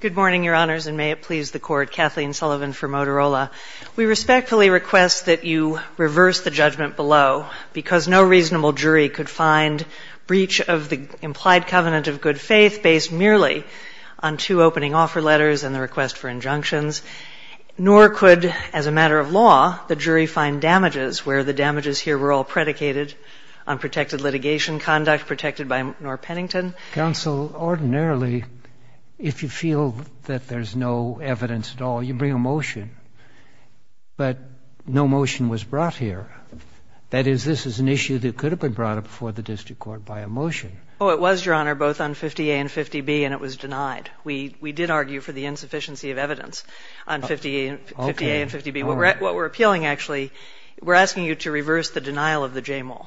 Good morning, Your Honors, and may it please the Court, Kathleen Sullivan for Motorola. We respectfully request that you reverse the judgment below, because no reasonable jury could find breach of the implied covenant of good faith based merely on two opening offer letters and the request for injunctions, nor could, as a matter of law, the jury find damages where the damages here were all predicated on protected litigation conduct protected by Norr Pennington. Counsel, ordinarily, if you feel that there's no evidence at all, you bring a motion. But no motion was brought here. That is, this is an issue that could have been brought before the district court by a motion. Oh, it was, Your Honor, both on 50A and 50B, and it was denied. We did argue for the insufficiency of evidence on 50A and 50B. What we're appealing, actually, we're asking you to reverse the denial of the JMOL.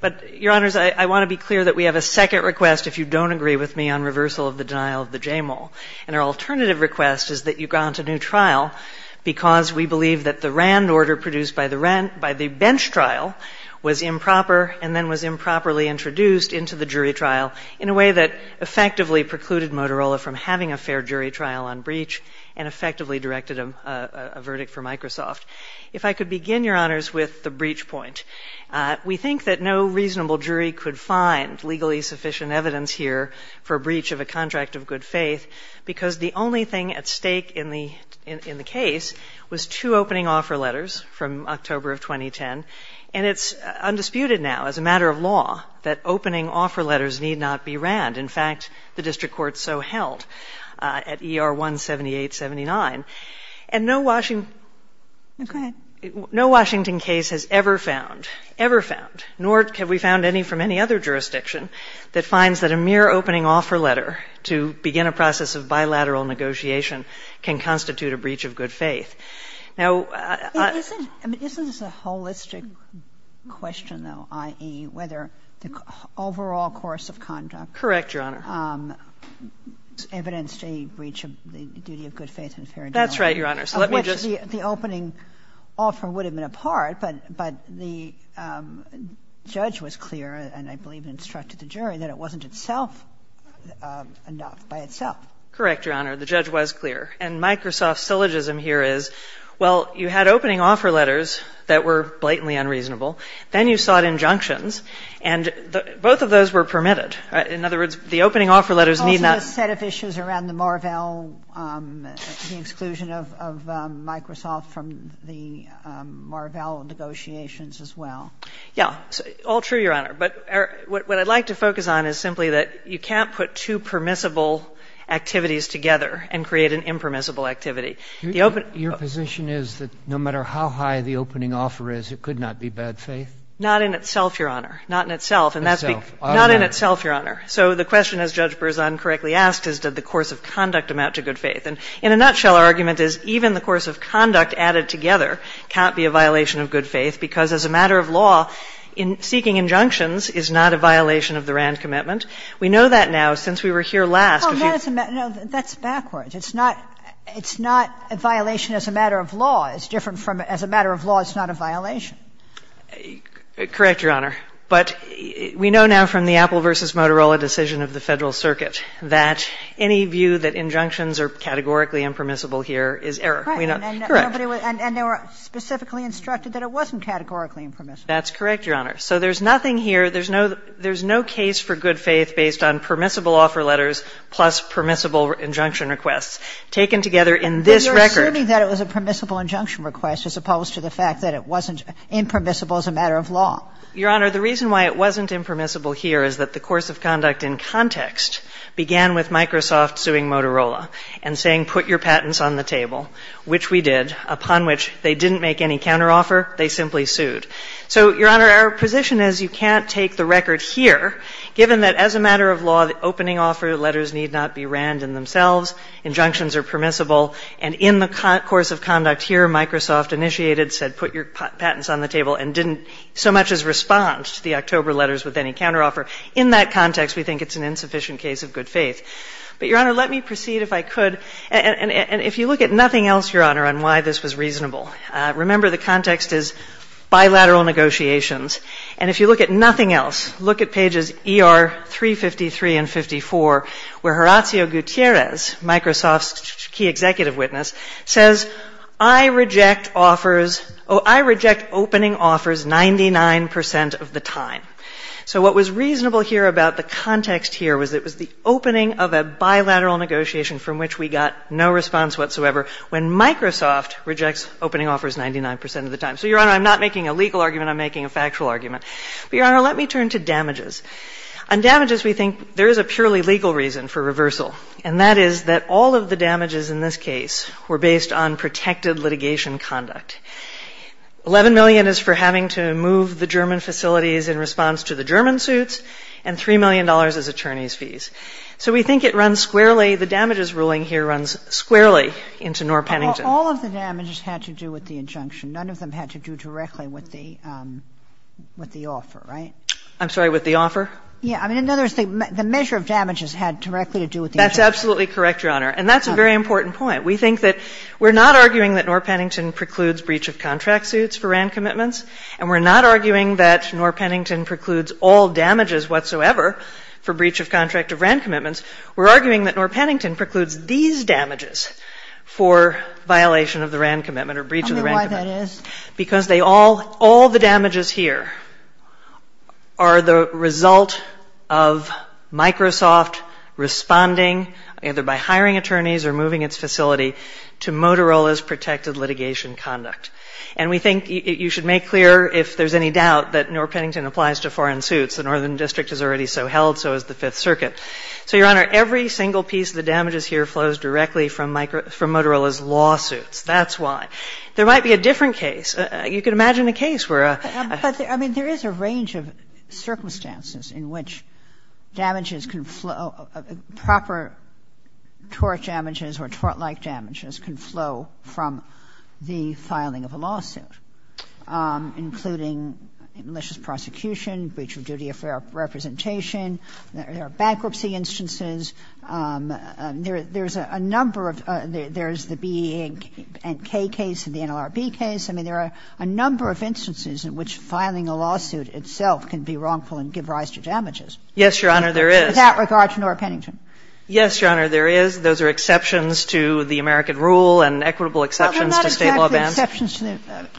But, Your Honors, I want to be clear that we have a second request, if you don't agree with me, on reversal of the denial of the JMOL. And our alternative request is that you grant a new trial, because we believe that the RAND order produced by the bench trial was improper and then was improperly introduced into the jury trial in a way that effectively precluded Motorola from having a fair jury trial on breach and effectively directed a verdict for Microsoft. If I could begin, Your Honors, with the breach point. We think that no reasonable jury could find legally sufficient evidence here for a breach of a contract of good faith, because the only thing at stake in the case was two opening offer letters from October of 2010. And it's undisputed now, as a matter of law, that opening offer letters need not be RAND. In fact, the district court so held at ER 17879. And no Washington case has ever found, ever found, nor have we found any from any other jurisdiction, that finds that a mere opening offer letter to begin a process of bilateral negotiation can constitute a breach of good faith. Now, I... Isn't this a holistic question, though, i.e., whether the overall course of conduct... Correct, Your Honor. ...evidenced a breach of the duty of good faith and fair judgment? That's right, Your Honor. So let me just... Of which the opening offer would have been a part, but the judge was clear, and I believe instructed the jury, that it wasn't itself enough by itself. Correct, Your Honor. The judge was clear. And Microsoft's syllogism here is, well, you had opening offer letters that were blatantly unreasonable, then you sought injunctions, and both of those were permitted. In other words, the opening offer letters need not... Also the set of issues around the Marvell, the exclusion of Microsoft from the Marvell negotiations as well. Yeah. All true, Your Honor. But what I'd like to focus on is simply that you can't put two permissible activities together and create an impermissible activity. Your position is that no matter how high the opening offer is, it could not be bad faith? Not in itself, Your Honor. Not in itself. Not in itself. Not in itself, Your Honor. So the question, as Judge Berzon correctly asked, is did the course of conduct amount to good faith? And in a nutshell, our argument is even the course of conduct added together can't be a violation of good faith, because as a matter of law, seeking injunctions is not a violation of the RAND commitment. We know that now, since we were here last... Oh, no, that's backwards. It's not a violation as a matter of law. It's different from as a matter of law, it's not a violation. Correct, Your Honor. But we know now from the Apple v. Motorola decision of the Federal Circuit that any view that injunctions are categorically impermissible here is error. Correct. And they were specifically instructed that it wasn't categorically impermissible. That's correct, Your Honor. So there's nothing here, there's no case for good faith based on permissible offer letters plus permissible injunction requests taken together in this record. But you're assuming that it was a permissible injunction request as opposed to the fact that it wasn't impermissible as a matter of law. Your Honor, the reason why it wasn't impermissible here is that the course of conduct in context began with Microsoft suing Motorola and saying put your patents on the table, which we did, upon which they didn't make any counteroffer, they simply sued. So, Your Honor, our position is you can't take the record here, given that as a matter of law, the opening offer letters need not be RAND in themselves, injunctions are permissible, and in the course of conduct here, Microsoft initiated, said put your patents on the table, which was response to the October letters with any counteroffer. In that context, we think it's an insufficient case of good faith. But, Your Honor, let me proceed if I could. And if you look at nothing else, Your Honor, on why this was reasonable, remember the context is bilateral negotiations. And if you look at nothing else, look at pages ER 353 and 54, where Horacio Gutierrez, Microsoft's key executive witness, says I reject offers, I reject opening offers 99 percent of the time. So what was reasonable here about the context here was it was the opening of a bilateral negotiation from which we got no response whatsoever, when Microsoft rejects opening offers 99 percent of the time. So, Your Honor, I'm not making a legal argument. I'm making a factual argument. But, Your Honor, let me turn to damages. On damages, we think there is a purely legal reason for reversal, and that is that all of the damages in this case were based on protected litigation conduct. $11 million is for having to move the German facilities in response to the German suits, and $3 million is attorney's fees. So we think it runs squarely, the damages ruling here runs squarely into Norr Pennington. All of the damages had to do with the injunction. None of them had to do directly with the offer, right? I'm sorry, with the offer? Yeah. In other words, the measure of damages had directly to do with the injunction. That's absolutely correct, Your Honor. And that's a very important point. We think that we're not arguing that Norr Pennington precludes breach of contract suits for RAND commitments, and we're not arguing that Norr Pennington precludes all damages whatsoever for breach of contract of RAND commitments. We're arguing that Norr Pennington precludes these damages for violation of the RAND commitment or breach of the RAND commitment. Tell me why that is. Because all the damages here are the result of Microsoft responding either by hiring attorneys or moving its facility to Motorola's protected litigation conduct. And we think you should make clear if there's any doubt that Norr Pennington applies to foreign suits. The Northern District is already so held, so is the Fifth Circuit. So, Your Honor, every single piece of the damages here flows directly from Motorola's lawsuits. That's why. There might be a different case. You could imagine a case where a ---- But, I mean, there is a range of circumstances in which damages can flow, proper tort damages or tort-like damages can flow from the filing of a lawsuit, including malicious prosecution, breach of duty of representation. There are bankruptcy instances. There's a number of ---- there's the BEA and K case and the NLRB case. I mean, there are a number of instances in which filing a lawsuit itself can be wrongful and give rise to damages. Yes, Your Honor, there is. With that regard to Norr Pennington. Yes, Your Honor, there is. Those are exceptions to the American rule and equitable exceptions to State law bans.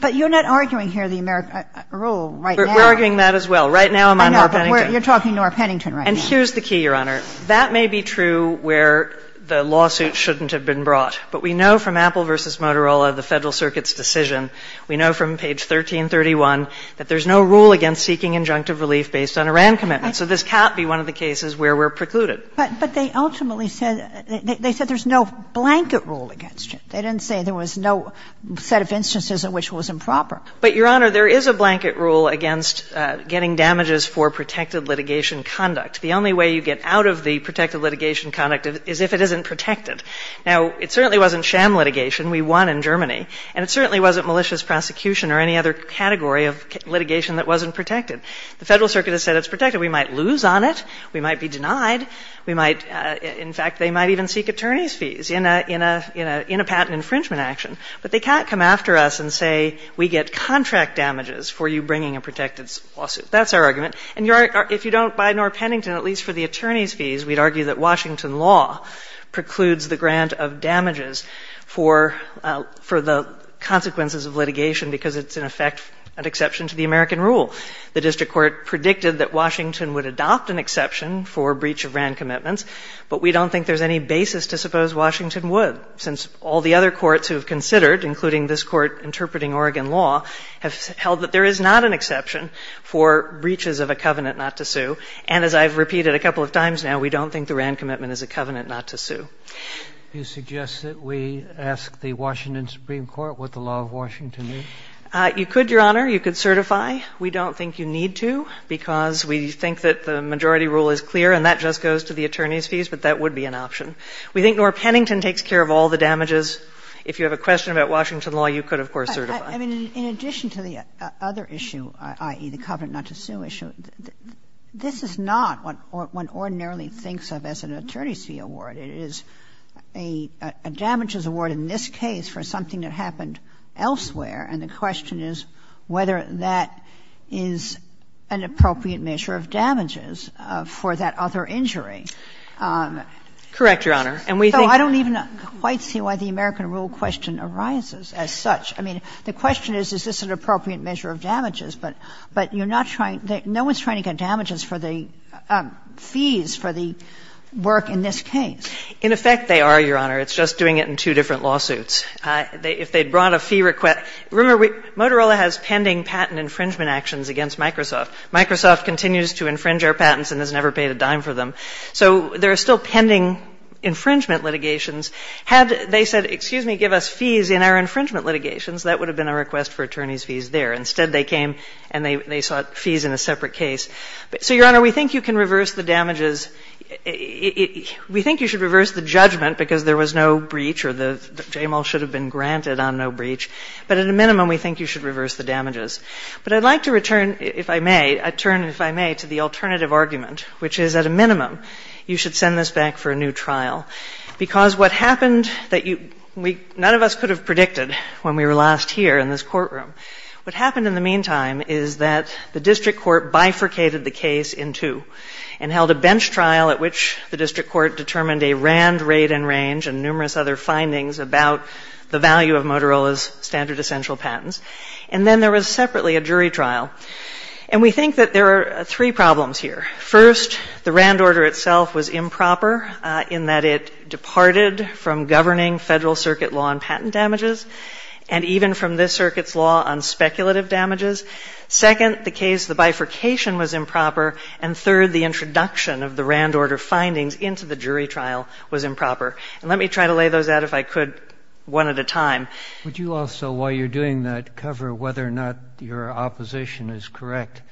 But you're not arguing here the American rule right now. We're arguing that as well. Right now I'm on Norr Pennington. You're talking Norr Pennington right now. And here's the key, Your Honor. That may be true where the lawsuit shouldn't have been brought. But we know from Apple v. Motorola, the Federal Circuit's decision, we know from page 1331 that there's no rule against seeking injunctive relief based on a RAND commitment. So this can't be one of the cases where we're precluded. But they ultimately said they said there's no blanket rule against it. They didn't say there was no set of instances in which it was improper. But, Your Honor, there is a blanket rule against getting damages for protected litigation conduct. The only way you get out of the protected litigation conduct is if it isn't protected. Now, it certainly wasn't sham litigation. We won in Germany. And it certainly wasn't malicious prosecution or any other category of litigation that wasn't protected. The Federal Circuit has said it's protected. We might lose on it. We might be denied. We might, in fact, they might even seek attorney's fees in a patent infringement action. But they can't come after us and say we get contract damages for you bringing a protected lawsuit. That's our argument. And, Your Honor, if you don't buy Norr Pennington, at least for the attorney's fees, we'd argue that Washington law precludes the grant of damages for the consequences of litigation because it's, in effect, an exception to the American rule. The district court predicted that Washington would adopt an exception for breach of RAND commitments, but we don't think there's any basis to suppose Washington would, since all the other courts who have considered, including this Court interpreting Oregon law, have held that there is not an exception for breaches of a covenant not to sue. And as I've repeated a couple of times now, we don't think the RAND commitment is a covenant not to sue. Do you suggest that we ask the Washington Supreme Court what the law of Washington means? You could, Your Honor. You could certify. We don't think you need to because we think that the majority rule is clear, and that just goes to the attorney's fees, but that would be an option. We think Norr Pennington takes care of all the damages. If you have a question about Washington law, you could, of course, certify. I mean, in addition to the other issue, i.e., the covenant not to sue issue, this is not what one ordinarily thinks of as an attorney's fee award. It is a damages award in this case for something that happened elsewhere, and the question is whether that is an appropriate measure of damages for that other injury. Correct, Your Honor. So I don't even quite see why the American rule question arises as such. I mean, the question is, is this an appropriate measure of damages? But you're not trying to – no one's trying to get damages for the fees for the work in this case. In effect, they are, Your Honor. It's just doing it in two different lawsuits. If they brought a fee request – remember, Motorola has pending patent infringement actions against Microsoft. Microsoft continues to infringe our patents and has never paid a dime for them. So there are still pending infringement litigations. Had they said, excuse me, give us fees in our infringement litigations, that would have been a request for attorney's fees there. Instead, they came and they sought fees in a separate case. So, Your Honor, we think you can reverse the damages. We think you should reverse the judgment because there was no breach or the JML should have been granted on no breach. But at a minimum, we think you should reverse the damages. But I'd like to return, if I may, a turn, if I may, to the alternative argument, which is, at a minimum, you should send this back for a new trial. Because what happened that you – none of us could have predicted when we were last here in this courtroom. What happened in the meantime is that the district court bifurcated the case in two and held a bench trial at which the district court determined a RAND rate and range and numerous other findings about the value of Motorola's standard essential patents. And then there was separately a jury trial. And we think that there are three problems here. First, the RAND order itself was improper in that it departed from governing Federal Circuit law on patent damages and even from this Circuit's law on speculative damages. Second, the case – the bifurcation was improper. And third, the introduction of the RAND order findings into the jury trial was improper. And let me try to lay those out, if I could, one at a time. Would you also, while you're doing that, cover whether or not your opposition is correct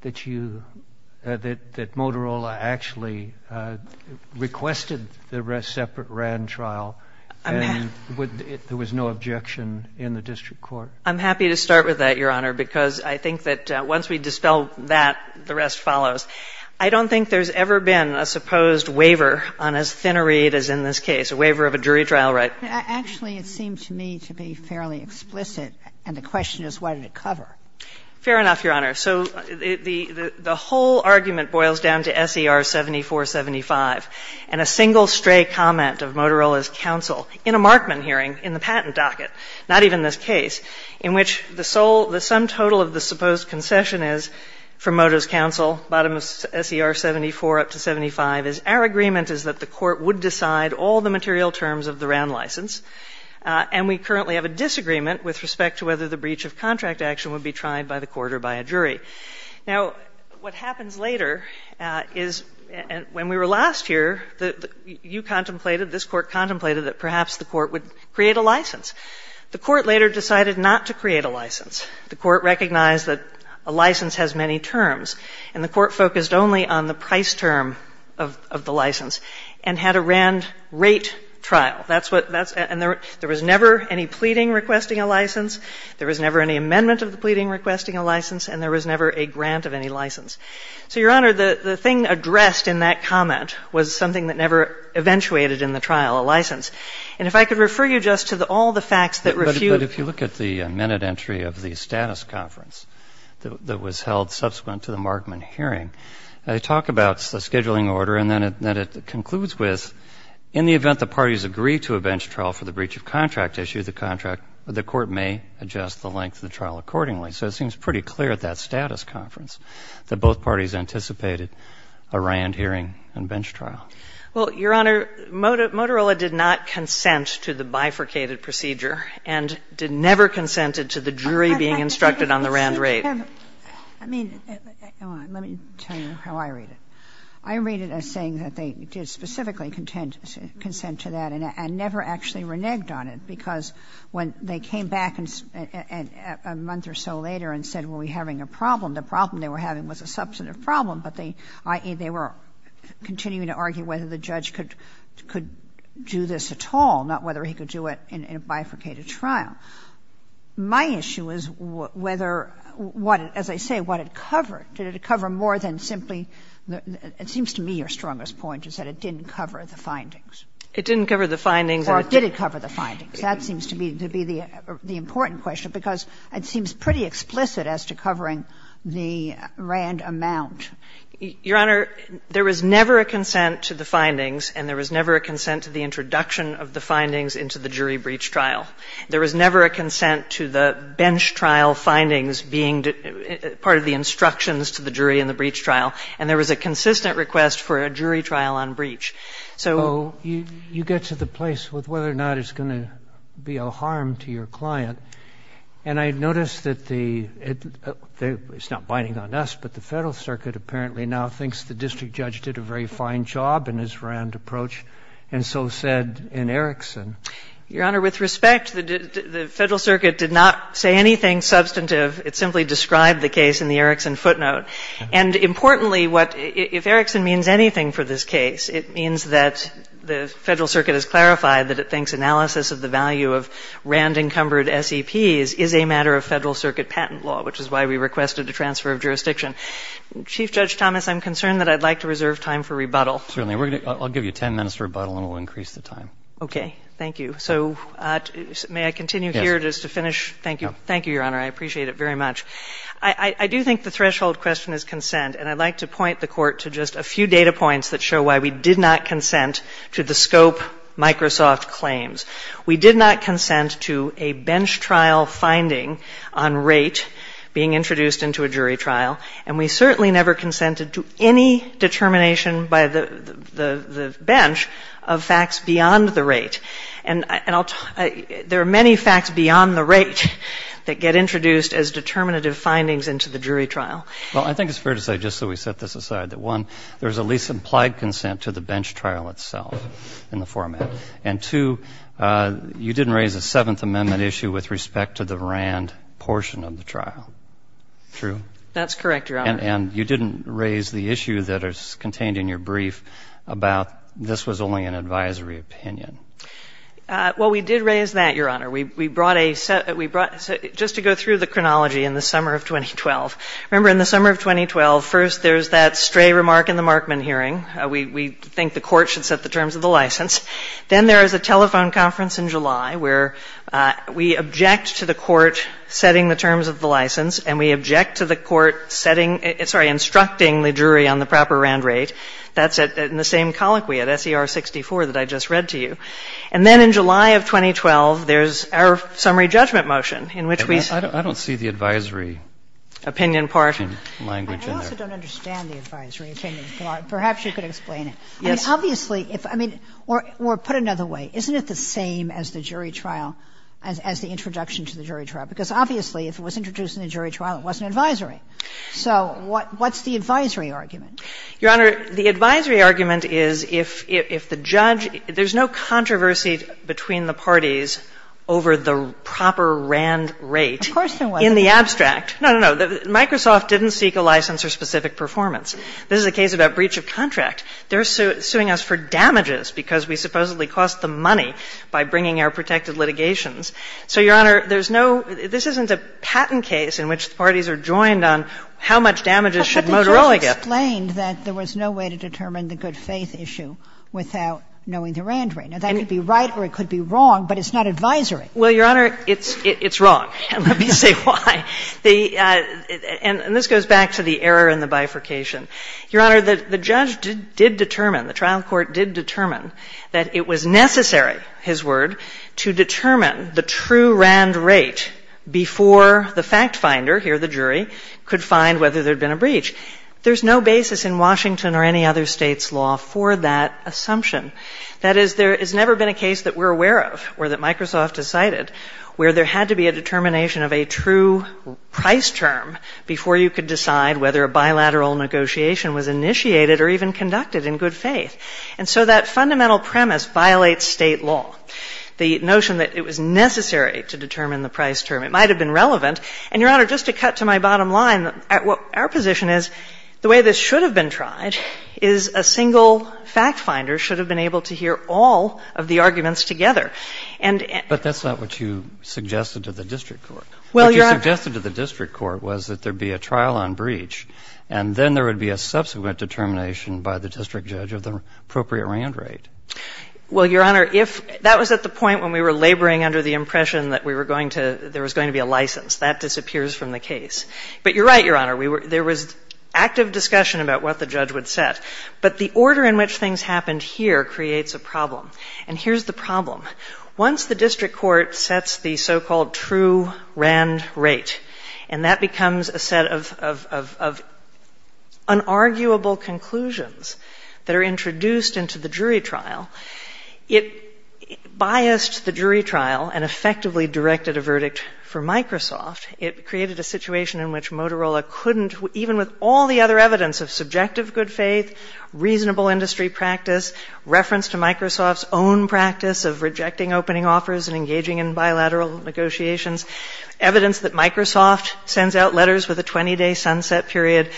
that you – that Motorola actually requested the separate RAND trial and there was no objection in the district court? I'm happy to start with that, Your Honor, because I think that once we dispel that, the rest follows. I don't think there's ever been a supposed waiver on as thin a read as in this case, a waiver of a jury trial right. Actually, it seemed to me to be fairly explicit. And the question is, what did it cover? Fair enough, Your Honor. So the whole argument boils down to S.E.R. 7475 and a single stray comment of Motorola's counsel in a Markman hearing in the patent docket, not even this case, in which the sum total of the supposed concession is from Motorola's counsel, bottom of S.E.R. 74 up to 75 is our agreement is that the court would decide all the material terms of the RAND license, and we currently have a disagreement with respect to whether the breach of contract action would be tried by the court or by a jury. Now, what happens later is when we were last here, you contemplated, this Court contemplated that perhaps the Court would create a license. The Court later decided not to create a license. The Court recognized that a license has many terms, and the Court focused only on the price term of the license and had a RAND rate trial. That's what that's – and there was never any pleading requesting a license, there was never any amendment of the pleading requesting a license, and there was never a grant of any license. So, Your Honor, the thing addressed in that comment was something that never eventuated in the trial, a license. And if I could refer you just to all the facts that refute – But if you look at the minute entry of the status conference that was held subsequent to the Markman hearing, they talk about the scheduling order, and then it concludes with, in the event the parties agree to a bench trial for the breach of contract issue, the contract – the Court may adjust the length of the trial accordingly. So it seems pretty clear at that status conference that both parties anticipated a RAND hearing and bench trial. Well, Your Honor, Motorola did not consent to the bifurcated procedure and never consented to the jury being instructed on the RAND rate. I mean, let me tell you how I read it. I read it as saying that they did specifically consent to that and never actually reneged on it, because when they came back a month or so later and said, well, we're having a problem, the problem they were having was a substantive problem, but they were continuing to argue whether the judge could do this at all, not whether he could do it in a bifurcated trial. My issue is whether what – as I say, what it covered. Did it cover more than simply – it seems to me your strongest point is that it didn't cover the findings. It didn't cover the findings. Or did it cover the findings? That seems to be the important question, because it seems pretty explicit as to covering the RAND amount. Your Honor, there was never a consent to the findings, and there was never a consent to the introduction of the findings into the jury breach trial. There was never a consent to the bench trial findings being part of the instructions to the jury in the breach trial. And there was a consistent request for a jury trial on breach. So you get to the place with whether or not it's going to be a harm to your client. And I noticed that the – it's not binding on us, but the Federal Circuit apparently now thinks the district judge did a very fine job in his RAND approach and so said in Erickson. Your Honor, with respect, the Federal Circuit did not say anything substantive. It simply described the case in the Erickson footnote. And importantly, what – if Erickson means anything for this case, it means that the Federal Circuit has clarified that it thinks analysis of the value of RAND-encumbered SEPs is a matter of Federal Circuit patent law, which is why we requested a transfer of jurisdiction. Chief Judge Thomas, I'm concerned that I'd like to reserve time for rebuttal. Certainly. I'll give you 10 minutes for rebuttal, and we'll increase the time. Okay. Thank you. So may I continue here just to finish? Yes. Thank you. Thank you, Your Honor. I appreciate it very much. I do think the threshold question is consent, and I'd like to point the Court to just a few data points that show why we did not consent to the scope Microsoft claims. We did not consent to a bench trial finding on rate being introduced into a jury trial, and we certainly never consented to any determination by the bench of facts beyond the rate. And I'll – there are many facts beyond the rate that get introduced as determinative findings into the jury trial. Well, I think it's fair to say, just so we set this aside, that, one, there is a least implied consent to the bench trial itself in the format, and, two, you didn't raise a Seventh Amendment issue with respect to the RAND portion of the trial. True? That's correct, Your Honor. And you didn't raise the issue that is contained in your brief about this was only an advisory opinion. Well, we did raise that, Your Honor. We brought a – we brought – just to go through the chronology in the summer of 2012. Remember, in the summer of 2012, first there's that stray remark in the Markman hearing. We think the Court should set the terms of the license. Then there is a telephone conference in July where we object to the Court setting the terms of the license, and we object to the Court setting – sorry, instructing the jury on the proper RAND rate. That's in the same colloquy at SER 64 that I just read to you. And then in July of 2012, there's our summary judgment motion in which we – I don't see the advisory – Opinion part – Language in there. I also don't understand the advisory opinion part. Perhaps you could explain it. Yes. I mean, obviously, if – I mean, or put another way, isn't it the same as the jury trial, as the introduction to the jury trial? Because obviously, if it was introduced in the jury trial, it wasn't advisory. So what's the advisory argument? Your Honor, the advisory argument is if the judge – there's no controversy between the parties over the proper RAND rate. Of course there wasn't. In the abstract. No, no, no. Microsoft didn't seek a license or specific performance. This is a case about breach of contract. They're suing us for damages because we supposedly cost them money by bringing our protected litigations. So, Your Honor, there's no – this isn't a patent case in which the parties are joined on how much damages should Motorola get. But the judge explained that there was no way to determine the good-faith issue without knowing the RAND rate. Now, that could be right or it could be wrong, but it's not advisory. Well, Your Honor, it's wrong. Let me say why. And this goes back to the error in the bifurcation. Your Honor, the judge did determine, the trial court did determine that it was necessary, his word, to determine the true RAND rate before the fact finder, here the jury, could find whether there had been a breach. There's no basis in Washington or any other state's law for that assumption. That is, there has never been a case that we're aware of or that Microsoft decided where there had to be a determination of a true price term before you could decide whether a bilateral negotiation was initiated or even conducted in good faith. And so that fundamental premise violates state law, the notion that it was necessary to determine the price term. It might have been relevant. And, Your Honor, just to cut to my bottom line, our position is the way this should have been tried is a single fact finder should have been able to hear all of the arguments together. arguments together. And at the end of the day, the fact finder should have been able to hear all of the Well, Your Honor, if that was at the point when we were laboring under the impression that we were going to ‑‑ there was going to be a license. That disappears from the case. But you're right, Your Honor. There was active discussion about what the judge would set. But the order in which things happened here creates a problem. And here's the problem. Once the district court sets the so-called true RAND rate, and that becomes a set of unarguable conclusions that are introduced into the jury trial, it biased the jury trial and effectively directed a verdict for Microsoft. It created a situation in which Motorola couldn't, even with all the other evidence of subjective good faith, reasonable industry practice, reference to Microsoft's own practice of rejecting opening offers and engaging in bilateral negotiations, evidence that Microsoft sends out letters with a 20‑day sunset period.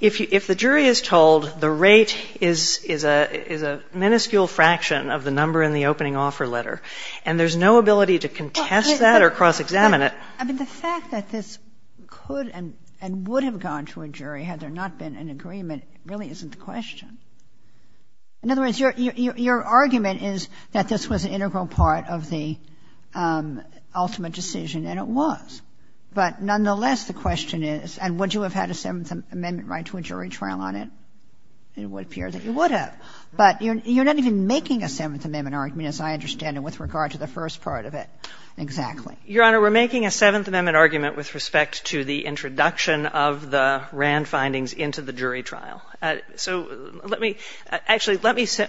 If the jury is told the rate is a minuscule fraction of the number in the opening offer letter, and there's no ability to contest that or cross‑examine it. I mean, the fact that this could and would have gone to a jury had there not been an agreement really isn't the question. In other words, your argument is that this was an integral part of the ultimate decision, and it was. But nonetheless, the question is, and would you have had a Seventh Amendment right to a jury trial on it? It would appear that you would have. But you're not even making a Seventh Amendment argument, as I understand it, with regard to the first part of it. Exactly. Your Honor, we're making a Seventh Amendment argument with respect to the introduction of the RAND findings into the jury trial. So let me ‑‑ actually, let me say,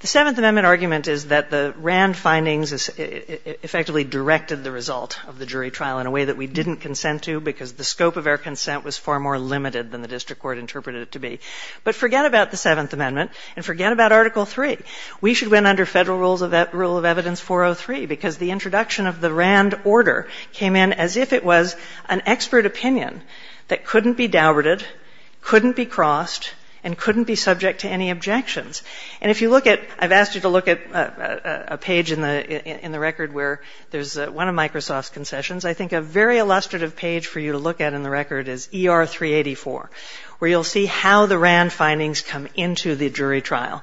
the Seventh Amendment argument is that the RAND findings effectively directed the result of the jury trial in a way that we didn't consent to, because the scope of our consent was far more limited than the district court interpreted it to be. But forget about the Seventh Amendment, and forget about Article III. We should have been under federal rule of evidence 403, because the introduction of the RAND order came in as if it was an expert opinion that couldn't be dowarded, couldn't be crossed, and couldn't be subject to any objections. And if you look at ‑‑ I've asked you to look at a page in the record where there's one of Microsoft's concessions. I think a very illustrative page for you to look at in the record is ER 384, where you'll see how the RAND findings come into the jury trial.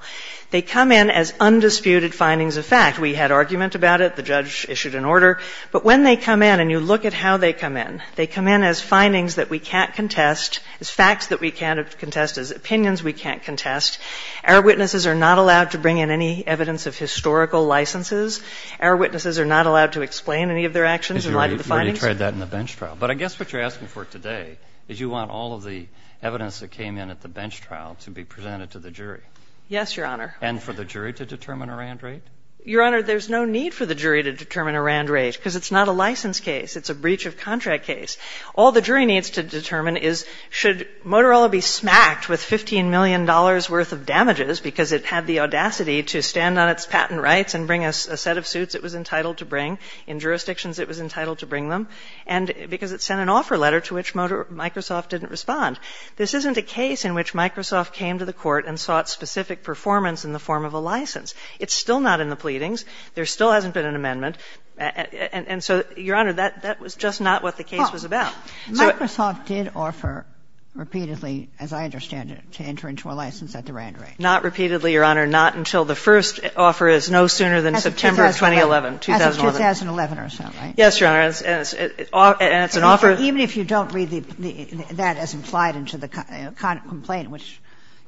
They come in as undisputed findings of fact. We had argument about it. The judge issued an order. But when they come in, and you look at how they come in, they come in as findings that we can't contest, as facts that we can't contest, as opinions we can't contest. Error witnesses are not allowed to bring in any evidence of historical licenses. Error witnesses are not allowed to explain any of their actions in light of the findings. But I guess what you're asking for today is you want all of the evidence that came in at the bench trial to be presented to the jury. Yes, Your Honor. And for the jury to determine a RAND rate? Your Honor, there's no need for the jury to determine a RAND rate, because it's not a license case. It's a breach of contract case. All the jury needs to determine is should Motorola be smacked with $15 million worth of damages because it had the audacity to stand on its patent rights and bring a set of suits it was entitled to bring, in jurisdictions it was entitled to bring them, and because it sent an offer letter to which Microsoft didn't respond. This isn't a case in which Microsoft came to the court and sought specific performance in the form of a license. It's still not in the pleadings. There still hasn't been an amendment. And so, Your Honor, that was just not what the case was about. Microsoft did offer repeatedly, as I understand it, to enter into a license at the RAND rate. Not repeatedly, Your Honor. Not until the first offer is no sooner than September 2011. As of 2011 or so, right? Yes, Your Honor. And it's an offer. Even if you don't read that as implied into the complaint, which,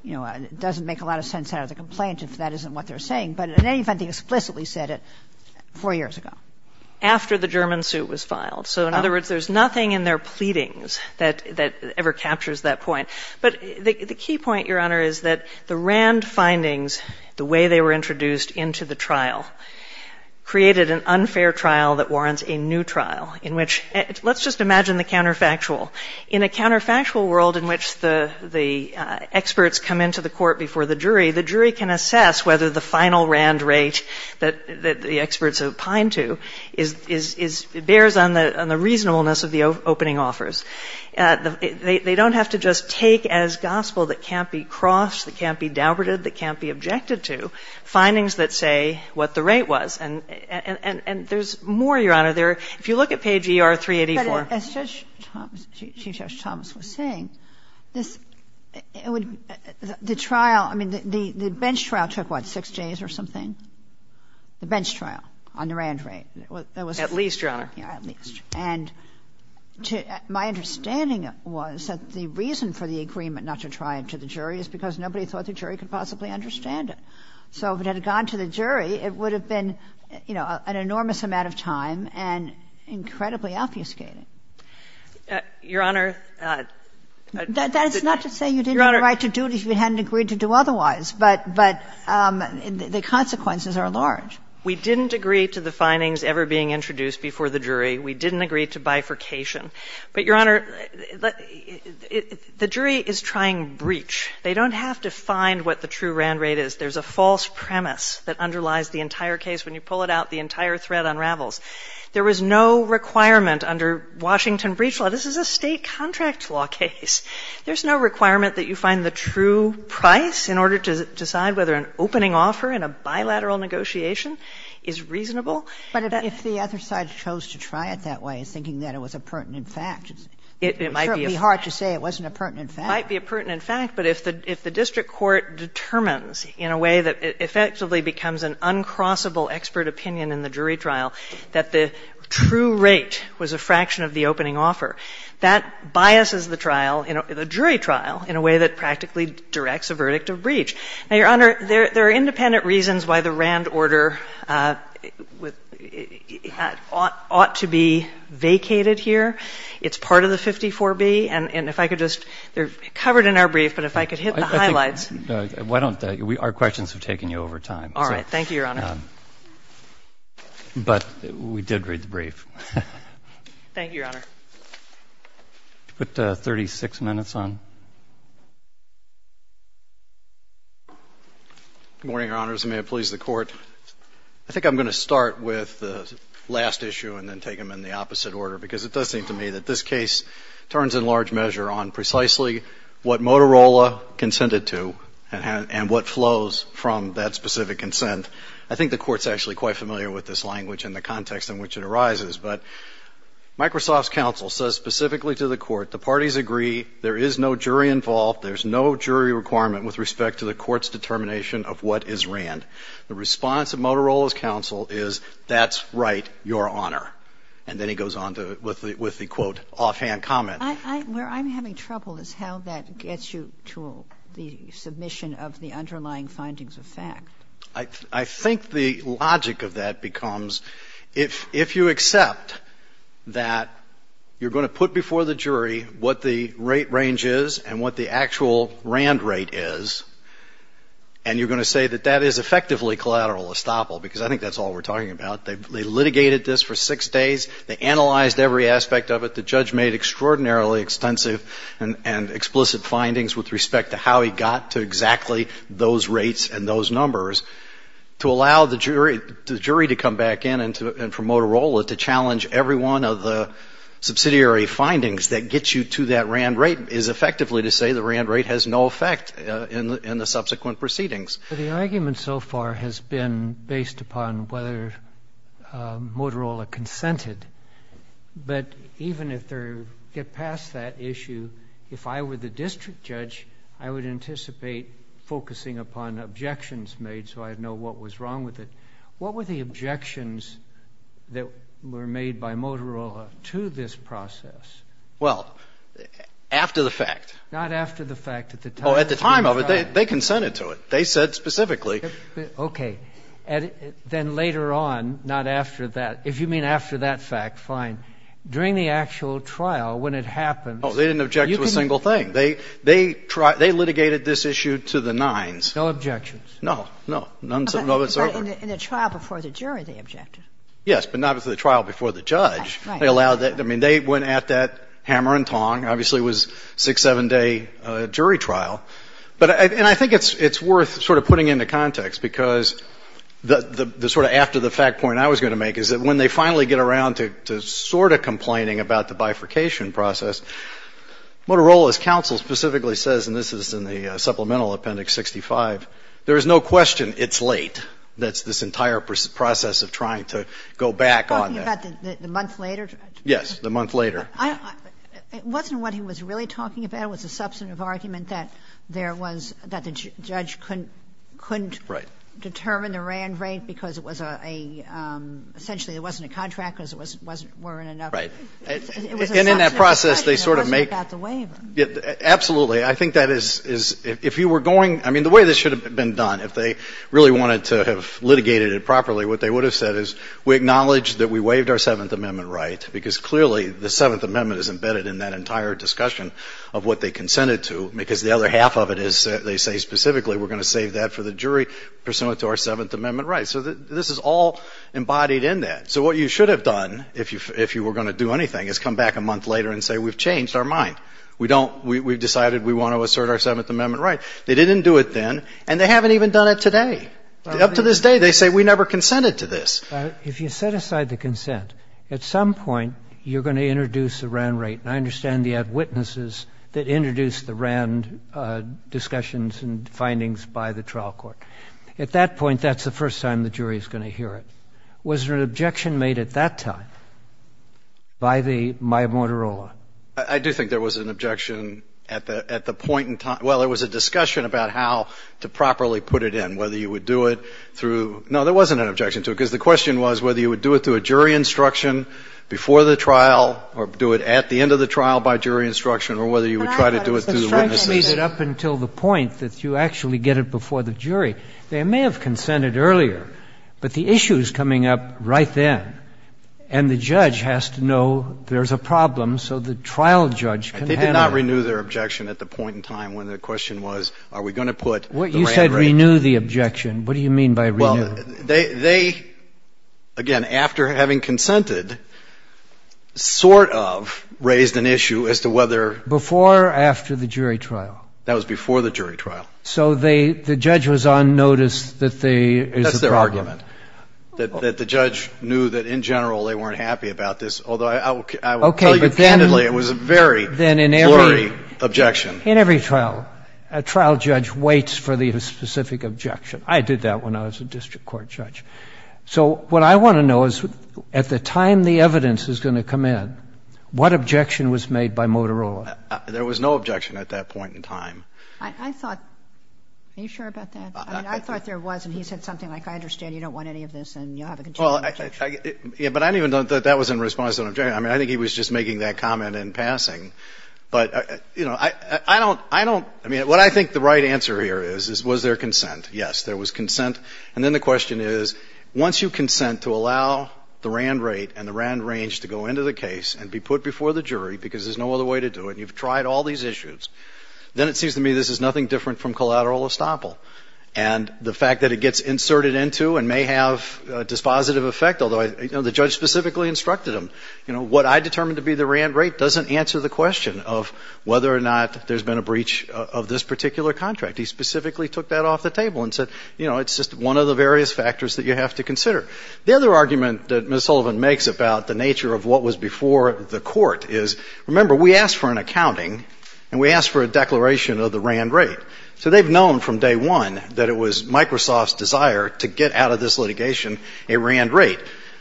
you know, doesn't make a lot of sense out of the complaint if that isn't what they're saying. After the German suit was filed. So, in other words, there's nothing in their pleadings that ever captures that point. But the key point, Your Honor, is that the RAND findings, the way they were introduced into the trial, created an unfair trial that warrants a new trial in which, let's just imagine the counterfactual. In a counterfactual world in which the experts come into the court before the jury, the jury can assess whether the final RAND rate that the experts opine to bears on the reasonableness of the opening offers. They don't have to just take as gospel that can't be crossed, that can't be doubted, that can't be objected to, findings that say what the rate was. And there's more, Your Honor. If you look at page ER-384. But as Judge Thomas was saying, the trial, I mean, the bench trial took, what, six days or something? The bench trial on the RAND rate. At least, Your Honor. At least. And my understanding was that the reason for the agreement not to try it to the jury is because nobody thought the jury could possibly understand it. So if it had gone to the jury, it would have been, you know, an enormous amount of time and incredibly obfuscating. Your Honor. That is not to say you didn't have a right to do it if you hadn't agreed to do otherwise, but the consequences are large. We didn't agree to the findings ever being introduced before the jury. We didn't agree to bifurcation. But, Your Honor, the jury is trying breach. They don't have to find what the true RAND rate is. There's a false premise that underlies the entire case. When you pull it out, the entire thread unravels. There was no requirement under Washington breach law. This is a State contract law case. There's no requirement that you find the true price in order to decide whether an opening offer in a bilateral negotiation is reasonable. But if the other side chose to try it that way, thinking that it was a pertinent fact, it might be hard to say it wasn't a pertinent fact. It might be a pertinent fact, but if the district court determines in a way that effectively becomes an uncrossable expert opinion in the jury trial that the true rate was a fraction of the opening offer, that biases the trial, the jury trial, in a way that practically directs a verdict of breach. Now, Your Honor, there are independent reasons why the RAND order ought to be vacated here. It's part of the 54B. And if I could just – they're covered in our brief, but if I could hit the highlights. Why don't – our questions have taken you over time. All right. Thank you, Your Honor. But we did read the brief. Thank you, Your Honor. Put 36 minutes on. Good morning, Your Honors. May it please the Court. I think I'm going to start with the last issue and then take them in the opposite order because it does seem to me that this case turns in large measure on precisely what Motorola consented to and what flows from that specific consent. I think the Court's actually quite familiar with this language and the context in which it arises. But Microsoft's counsel says specifically to the Court, the parties agree, there is no jury involved, there's no jury requirement with respect to the Court's determination of what is RAND. The response of Motorola's counsel is, that's right, Your Honor. And then he goes on with the, quote, offhand comment. Where I'm having trouble is how that gets you to the submission of the underlying findings of fact. I think the logic of that becomes, if you accept that you're going to put before the jury what the rate range is and what the actual RAND rate is, and you're going to say that that is effectively collateral estoppel, because I think that's all we're talking about. They litigated this for six days. They analyzed every aspect of it. The judge made extraordinarily extensive and explicit findings with respect to how he got to exactly those rates and those numbers. To allow the jury to come back in and for Motorola to challenge every one of the subsidiary findings that gets you to that RAND rate is effectively to say the RAND rate has no effect in the subsequent proceedings. The argument so far has been based upon whether Motorola consented. But even if they get past that issue, if I were the district judge, I would anticipate focusing upon objections made so I'd know what was wrong with it. What were the objections that were made by Motorola to this process? Well, after the fact. Not after the fact. Oh, at the time of it, they consented to it. They said specifically. Okay. Then later on, not after that. If you mean after that fact, fine. During the actual trial, when it happened... Oh, they didn't object to a single thing. They litigated this issue to the nines. No objections. No, no. None whatsoever. But in the trial before the jury, they objected. Yes, but not at the trial before the judge. Right. I mean, they went at that hammer and tong. Obviously, it was a six, seven-day jury trial. And I think it's worth sort of putting into context because the sort of after the fact point I was going to make is that when they finally get around to sort of complaining about the bifurcation process, Motorola's counsel specifically says, and this is in the supplemental appendix 65, there is no question it's late, this entire process of trying to go back on that. You're talking about the month later? Yes, the month later. It wasn't what he was really talking about. It was a substantive argument that there was, that the judge couldn't... Right. ...couldn't determine the RAND rate because it was a, essentially, there wasn't a contract because there weren't enough... Right. And in that process, they sort of make... It was a substantive objection. It wasn't about the waiver. Absolutely. I think that is, if you were going, I mean, the way this should have been done, if they really wanted to have litigated it properly, what they would have said is, we acknowledge that we waived our Seventh Amendment right because, clearly, the Seventh Amendment is embedded in that entire discussion of what they consented to because the other half of it is, they say specifically, we're going to save that for the jury pursuant to our Seventh Amendment rights. So this is all embodied in that. So what you should have done, if you were going to do anything, is come back a month later and say, we've changed our mind. We don't, we've decided we want to assert our Seventh Amendment right. They didn't do it then, and they haven't even done it today. Up to this day, they say, we never consented to this. If you set aside the consent, at some point, you're going to introduce a RAND rate. And I understand you had witnesses that introduced the RAND discussions and findings by the trial court. At that point, that's the first time the jury is going to hear it. Was there an objection made at that time by the, by Motorola? I do think there was an objection at the point in time. Well, there was a discussion about how to properly put it in, whether you would do it through, no, there wasn't an objection to it because the question was whether you would do it through a jury instruction before the trial or do it at the end of the trial by jury instruction or whether you would try to do it through the witnesses. But I thought if the strikes made it up until the point that you actually get it before the jury, they may have consented earlier, but the issue is coming up right then and the judge has to know there's a problem so the trial judge can handle it. They did not renew their objection at the point in time when the question was, are we going to put the RAND rate? You said renew the objection. What do you mean by renew? Well, they, again, after having consented, sort of raised an issue as to whether... Before or after the jury trial? That was before the jury trial. So the judge was on notice that there is a problem. That's their argument, that the judge knew that in general they weren't happy about this, although I will tell you candidly it was a very blurry objection. In every trial, a trial judge waits for the specific objection. I did that when I was a district court judge. So what I want to know is at the time the evidence is going to come in, what objection was made by Motorola? There was no objection at that point in time. I thought... Are you sure about that? I mean, I thought there was, and he said something like, I understand you don't want any of this and you'll have a continuing objection. Yeah, but I don't even know that that was in response to an objection. I mean, I think he was just making that comment in passing. But, you know, I don't... I mean, what I think the right answer here is, was there consent? Yes, there was consent. And then the question is, once you consent to allow the RAND rate and the RAND range to go into the case and be put before the jury because there's no other way to do it and you've tried all these issues, then it seems to me this is nothing different from collateral estoppel. And the fact that it gets inserted into and may have a dispositive effect, although the judge specifically instructed him, what I determined to be the RAND rate doesn't answer the question of whether or not there's been a breach of this particular contract. He specifically took that off the table and said, you know, it's just one of the various factors that you have to consider. The other argument that Ms. Sullivan makes about the nature of what was before the court is, remember, we asked for an accounting and we asked for a declaration of the RAND rate. So they've known from day one that it was Microsoft's desire to get out of this litigation a RAND rate.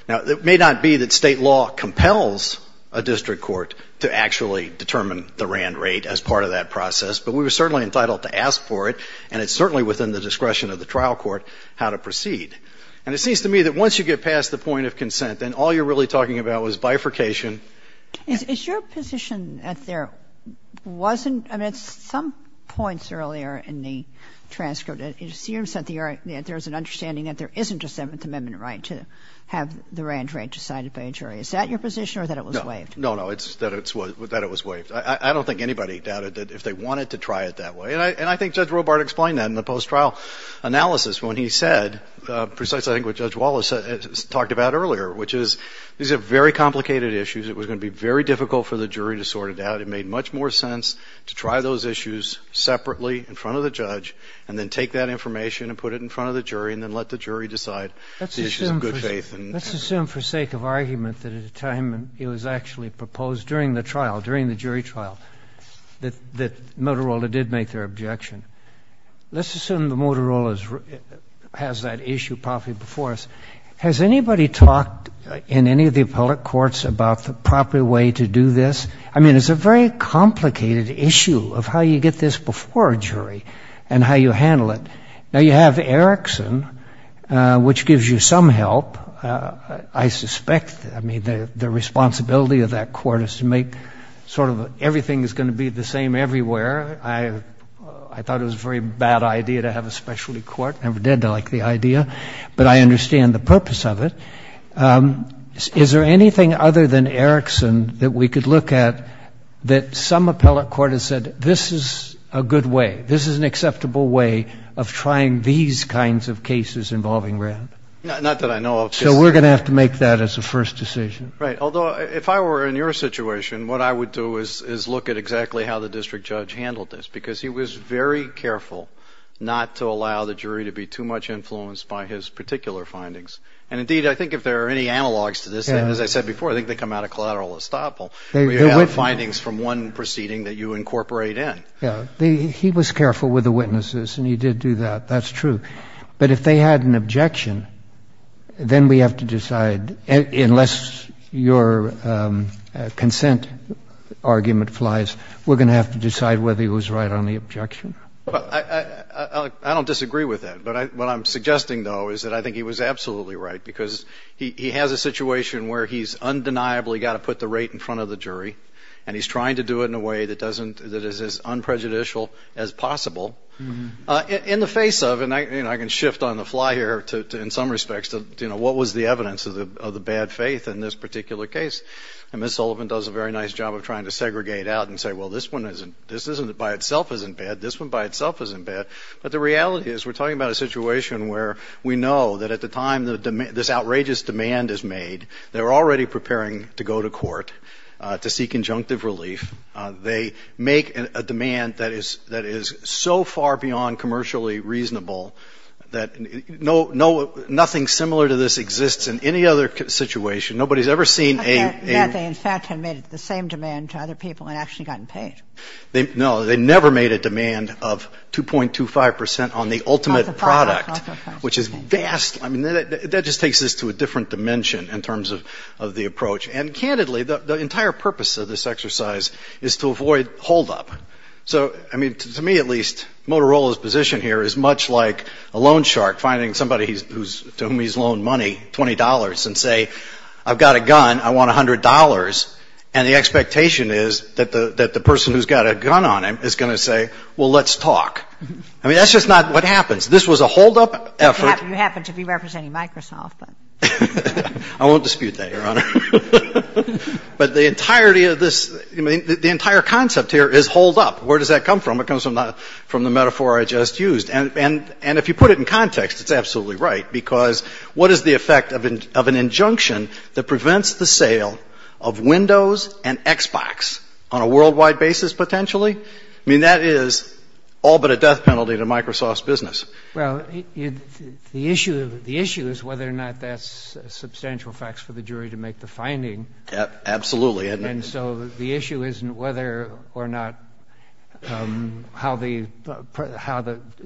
Now, it may not be that state law compels a district court to actually determine the RAND rate as part of that process, but we were certainly entitled to ask for it, and it's certainly within the discretion of the trial court how to proceed. And it seems to me that once you get past the point of consent, then all you're really talking about is bifurcation. Kagan. Is your position that there wasn't, I mean, at some points earlier in the transcript, it seems that there's an understanding that there isn't a Seventh Amendment right to have the RAND rate decided by a jury. Is that your position or that it was waived? No, no, it's that it was waived. I don't think anybody doubted that if they wanted to try it that way, and I think Judge Robart explained that in the post-trial analysis when he said, precisely I think what Judge Wallace talked about earlier, which is these are very complicated issues. It was going to be very difficult for the jury to sort it out. It made much more sense to try those issues separately in front of the judge and then take that information and put it in front of the jury and then let the jury decide the issues of good faith. Let's assume for sake of argument that at the time it was actually proposed during the trial, during the jury trial, that Motorola did make their objection. Let's assume that Motorola has that issue properly before us. Has anybody talked in any of the appellate courts about the proper way to do this? I mean, it's a very complicated issue of how you get this before a jury and how you handle it. Now, you have Erickson, which gives you some help, I suspect. I mean, the responsibility of that court is to make sort of everything is going to be the same everywhere. I thought it was a very bad idea to have a specialty court. I never did like the idea. But I understand the purpose of it. Is there anything other than Erickson that we could look at that some appellate court has said, this is a good way, this is an acceptable way of trying these kinds of cases involving RAND? Not that I know of. So we're going to have to make that as a first decision. Right, although if I were in your situation, what I would do is look at exactly how the district judge handled this because he was very careful not to allow the jury to be too much influenced by his particular findings. And indeed, I think if there are any analogs to this, and as I said before, I think they come out of collateral estoppel, where you have findings from one proceeding that you incorporate in. He was careful with the witnesses, and he did do that. That's true. But if they had an objection, then we have to decide, unless your consent argument flies, we're going to have to decide whether he was right on the objection. I don't disagree with that. But what I'm suggesting, though, is that I think he was absolutely right because he has a situation where he's undeniably got to put the rate in front of the jury, and he's trying to do it in a way that is as unprejudicial as possible in the face of, and I can shift on the fly here in some respects, what was the evidence of the bad faith in this particular case. And Ms. Sullivan does a very nice job of trying to segregate out and say, well, this one by itself isn't bad. This one by itself isn't bad. But the reality is we're talking about a situation where we know that at the time this outrageous demand is made, they're already preparing to go to court to seek injunctive relief. They make a demand that is so far beyond commercially reasonable that nothing similar to this exists in any other situation. Nobody's ever seen a — That they in fact had made the same demand to other people and actually gotten paid. No. They never made a demand of 2.25 percent on the ultimate product, which is vast. I mean, that just takes us to a different dimension in terms of the approach. And candidly, the entire purpose of this exercise is to avoid holdup. So, I mean, to me at least, Motorola's position here is much like a loan shark finding somebody to whom he's loaned money, $20, and say, I've got a gun, I want $100. And the expectation is that the person who's got a gun on him is going to say, well, let's talk. I mean, that's just not what happens. This was a holdup effort. You happen to be representing Microsoft. I won't dispute that, Your Honor. But the entirety of this — the entire concept here is holdup. Where does that come from? It comes from the metaphor I just used. And if you put it in context, it's absolutely right, because what is the effect of an injunction that prevents the sale of Windows and Xbox on a worldwide basis potentially? I mean, that is all but a death penalty to Microsoft's business. Well, the issue is whether or not that's substantial facts for the jury to make the finding. Absolutely. And so the issue isn't whether or not how the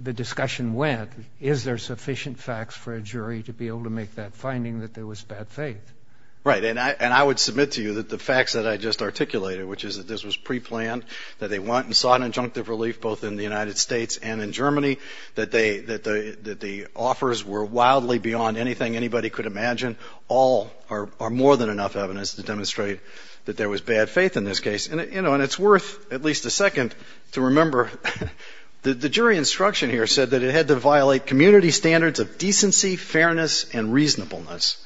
discussion went. Is there sufficient facts for a jury to be able to make that finding that there was bad faith? Right. And I would submit to you that the facts that I just articulated, which is that this was preplanned, that they went and sought injunctive relief both in the United States and in Germany, that the offers were wildly beyond anything anybody could imagine, all are more than enough evidence to demonstrate that there was bad faith in this case. And it's worth at least a second to remember that the jury instruction here said that it had to violate community standards of decency, fairness, and reasonableness.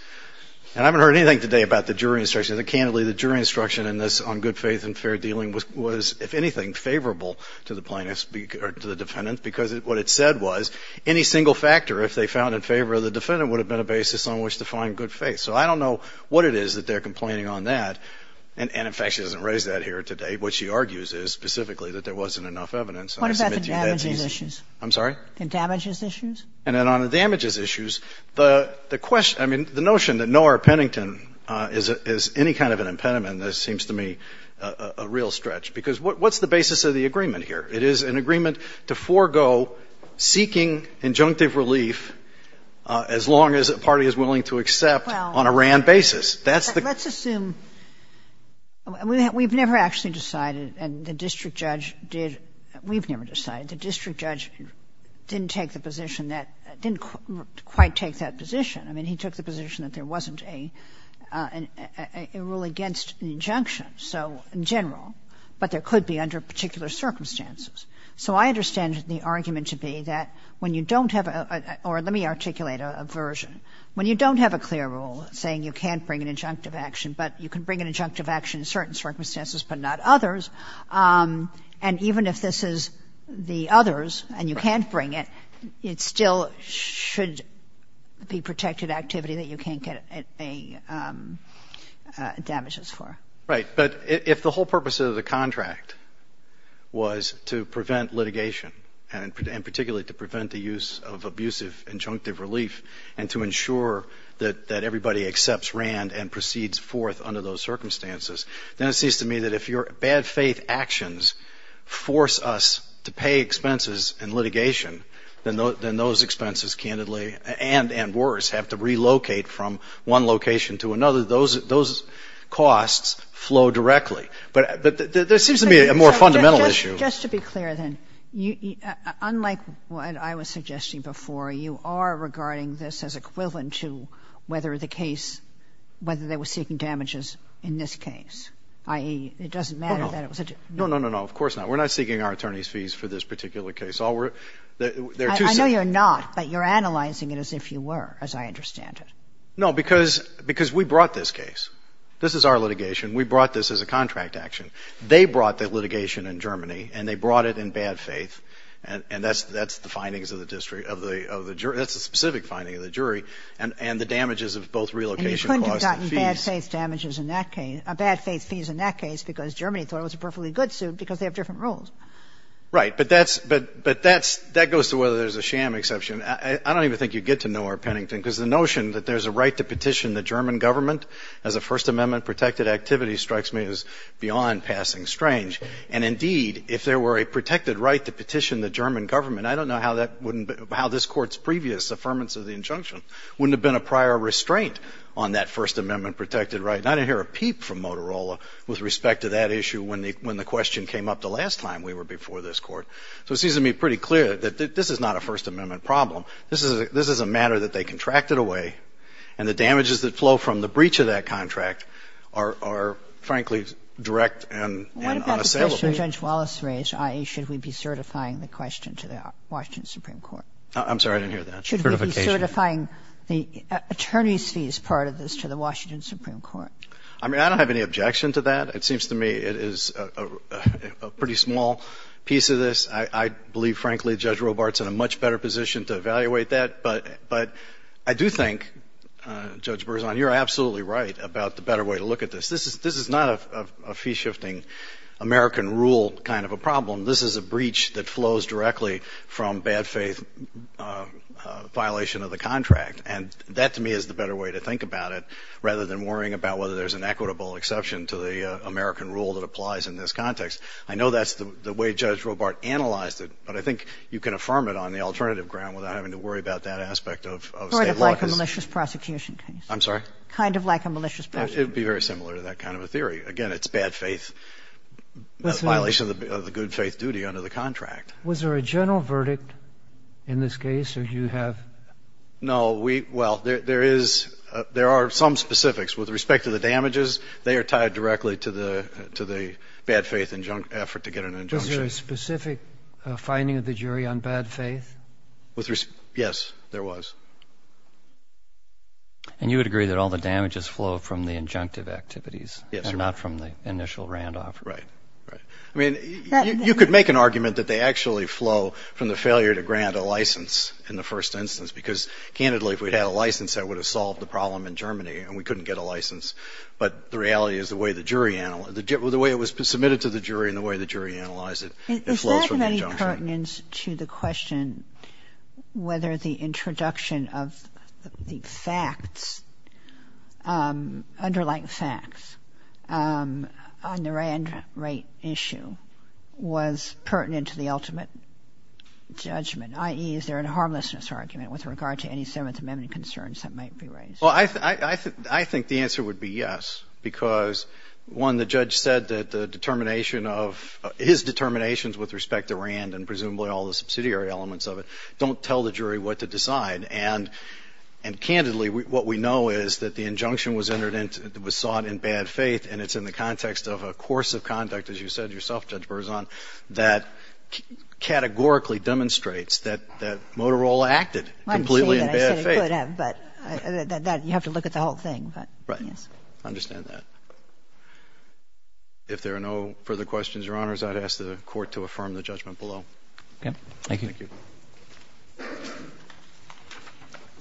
And I haven't heard anything today about the jury instruction. Candidly, the jury instruction in this on good faith and fair dealing was, if anything, favorable to the plaintiff's — or to the defendant, because what it said was any single factor, if they found in favor of the defendant, would have been a basis on which to find good faith. So I don't know what it is that they're complaining on that. And, in fact, she doesn't raise that here today. What she argues is specifically that there wasn't enough evidence. And I submit to you that she's — What about the damages issues? I'm sorry? The damages issues? And on the damages issues, the question — I mean, the notion that Noehr-Pennington is any kind of an impediment seems to me a real stretch, because what's the basis of the agreement here? It is an agreement to forego seeking injunctive relief as long as a party is willing to accept on a RAND basis. That's the — Well, let's assume — we've never actually decided, and the district judge did — we've never decided. The district judge didn't take the position that — didn't quite take that position. I mean, he took the position that there wasn't a rule against an injunction, so in general, but there could be under particular circumstances. So I understand the argument to be that when you don't have a — or let me articulate a version. When you don't have a clear rule saying you can't bring an injunctive action, but you can bring an injunctive action in certain circumstances but not others, and even if this is the others and you can't bring it, it still should be protected activity that you can't get damages for. Right. But if the whole purpose of the contract was to prevent litigation and particularly to prevent the use of abusive injunctive relief and to ensure that everybody accepts RAND and proceeds forth under those circumstances, then it seems to me that if your bad faith actions force us to pay expenses in litigation, then those expenses, candidly, and worse, have to relocate from one location to another. Those costs flow directly. But there seems to me a more fundamental issue. Just to be clear, then, unlike what I was suggesting before, you are regarding this as equivalent to whether the case, whether they were seeking damages in this case, i.e., it doesn't matter that it was a — No, no, no, no. Of course not. We're not seeking our attorneys' fees for this particular case. All we're — they're too — I know you're not, but you're analyzing it as if you were, as I understand it. No, because we brought this case. This is our litigation. We brought this as a contract action. They brought the litigation in Germany, and they brought it in bad faith, and that's the findings of the jury — that's the specific finding of the jury, and the damages of both relocation costs and fees. And you couldn't have gotten bad faith damages in that case — bad faith fees in that case because Germany thought it was a perfectly good suit because they have different rules. Right. But that's — but that goes to whether there's a sham exception. I don't even think you'd get to nowhere, Pennington, because the notion that there's a right to petition the German government as a First Amendment-protected activity strikes me as beyond passing strange. And indeed, if there were a protected right to petition the German government, I don't know how that wouldn't — how this Court's previous affirmance of the injunction wouldn't have been a prior restraint on that First Amendment-protected right. And I didn't hear a peep from Motorola with respect to that issue when the — when the question came up the last time we were before this Court. So it seems to me pretty clear that this is not a First Amendment problem. This is a — this is a matter that they contracted away, and the damages that flow from the breach of that contract are — are, frankly, direct and unassailable. What about the question Judge Wallace raised, i.e., should we be certifying the question to the Washington Supreme Court? I'm sorry. I didn't hear that. Certification. Should we be certifying the attorneys' fees part of this to the Washington Supreme Court? I mean, I don't have any objection to that. It seems to me it is a pretty small piece of this. I believe, frankly, Judge Robart's in a much better position to evaluate that. But — but I do think, Judge Berzon, you're absolutely right about the better way to look at this. This is — this is not a fee-shifting, American rule kind of a problem. This is a breach that flows directly from bad faith violation of the contract. And that, to me, is the better way to think about it rather than worrying about whether there's an equitable exception to the American rule that applies in this context. I know that's the way Judge Robart analyzed it, but I think you can affirm it on the alternative ground without having to worry about that aspect of — of state law. Sort of like a malicious prosecution case. I'm sorry? Kind of like a malicious prosecution. It would be very similar to that kind of a theory. Again, it's bad faith violation of the good faith duty under the contract. Was there a general verdict in this case? Or do you have — No, we — well, there is — there are some specifics. With respect to the damages, they are tied directly to the — to the bad faith effort to get an injunction. Was there a specific finding of the jury on bad faith? With respect — yes, there was. And you would agree that all the damages flow from the injunctive activities? Yes, Your Honor. And not from the initial Randolph? Right. Right. I mean, you could make an argument that they actually flow from the failure to grant a Candidly, if we'd had a license, that would have solved the problem in Germany, and we couldn't get a license. But the reality is the way the jury — the way it was submitted to the jury and the way the jury analyzed it, it flows from the injunction. Is that of any pertinence to the question whether the introduction of the facts — underlying facts on the Rand rate issue was pertinent to the ultimate judgment? I.e., is there a harmlessness argument with regard to any 7th Amendment concerns that might be raised? Well, I think the answer would be yes, because, one, the judge said that the determination of — his determinations with respect to Rand and presumably all the subsidiary elements of it don't tell the jury what to decide. And candidly, what we know is that the injunction was entered into — was sought in bad faith, and it's in the context of a course of conduct, as you said yourself, Judge Motorola acted completely in bad faith. I'm saying that I said it could have, but that — you have to look at the whole thing, but yes. Right. I understand that. If there are no further questions, Your Honors, I'd ask the Court to affirm the judgment below. Okay. Thank you. Thank you.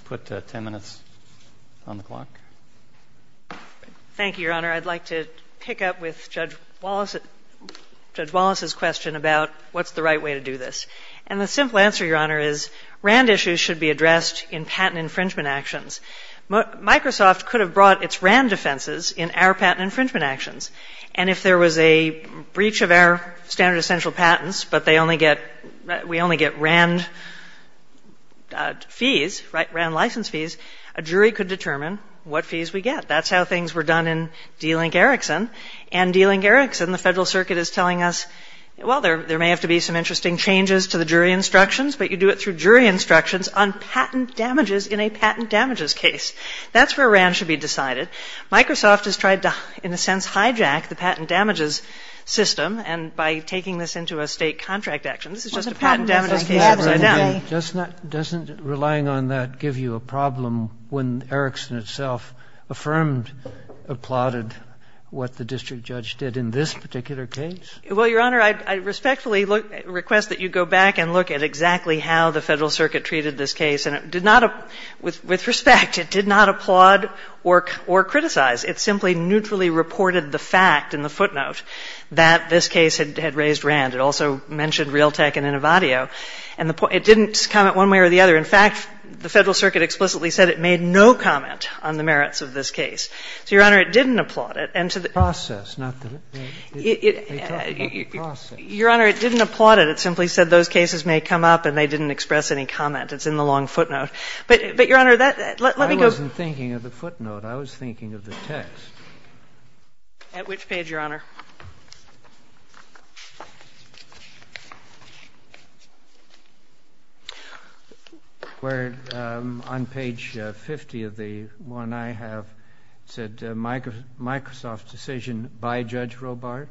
We'll put 10 minutes on the clock. Thank you, Your Honor. I'd like to pick up with Judge Wallace — Judge Wallace's question about what's the right way to do this. And the simple answer, Your Honor, is Rand issues should be addressed in patent infringement actions. Microsoft could have brought its Rand defenses in our patent infringement actions, and if there was a breach of our standard essential patents, but they only get — we only get Rand fees, right, Rand license fees, a jury could determine what fees we get. That's how things were done in D-Link Erickson, and D-Link Erickson, the but you do it through jury instructions on patent damages in a patent damages case. That's where Rand should be decided. Microsoft has tried to, in a sense, hijack the patent damages system, and by taking this into a state contract action. This is just a patent damages case upside down. Doesn't relying on that give you a problem when Erickson itself affirmed, applauded what the district judge did in this particular case? Well, Your Honor, I respectfully request that you go back and look at exactly how the Federal Circuit treated this case. And it did not — with respect, it did not applaud or criticize. It simply neutrally reported the fact in the footnote that this case had raised Rand. It also mentioned Realtek and Innovatio. And it didn't comment one way or the other. In fact, the Federal Circuit explicitly said it made no comment on the merits of this case. So, Your Honor, it didn't applaud it. And to the — The process, not the — they talked about the process. Your Honor, it didn't applaud it. It simply said those cases may come up, and they didn't express any comment. It's in the long footnote. But, Your Honor, that — let me go — I wasn't thinking of the footnote. I was thinking of the text. At which page, Your Honor? Where, on page 50 of the one I have, it said, Microsoft decision by Judge Robart.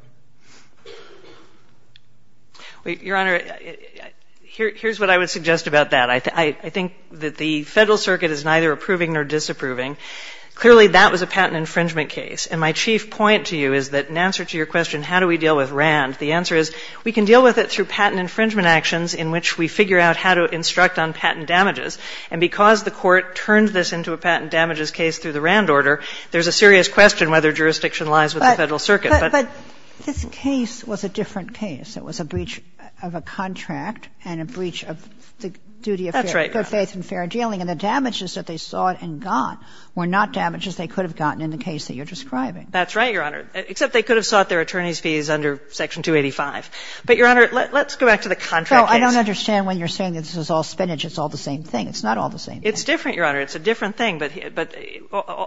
Well, Your Honor, here's what I would suggest about that. I think that the Federal Circuit is neither approving nor disapproving. Clearly, that was a patent infringement case. And I asked you a question, how do we deal with RAND? The answer is, we can deal with it through patent infringement actions in which we figure out how to instruct on patent damages. And because the Court turns this into a patent damages case through the RAND order, there's a serious question whether jurisdiction lies with the Federal Circuit. But this case was a different case. It was a breach of a contract and a breach of the duty of fair — That's right, Your Honor. Good faith and fair dealing. And the damages that they sought and got were not damages they could have gotten in the case that you're describing. That's right, Your Honor. Except they could have sought their attorney's fees under Section 285. But, Your Honor, let's go back to the contract case. So I don't understand when you're saying this is all spinach. It's all the same thing. It's not all the same thing. It's different, Your Honor. It's a different thing. But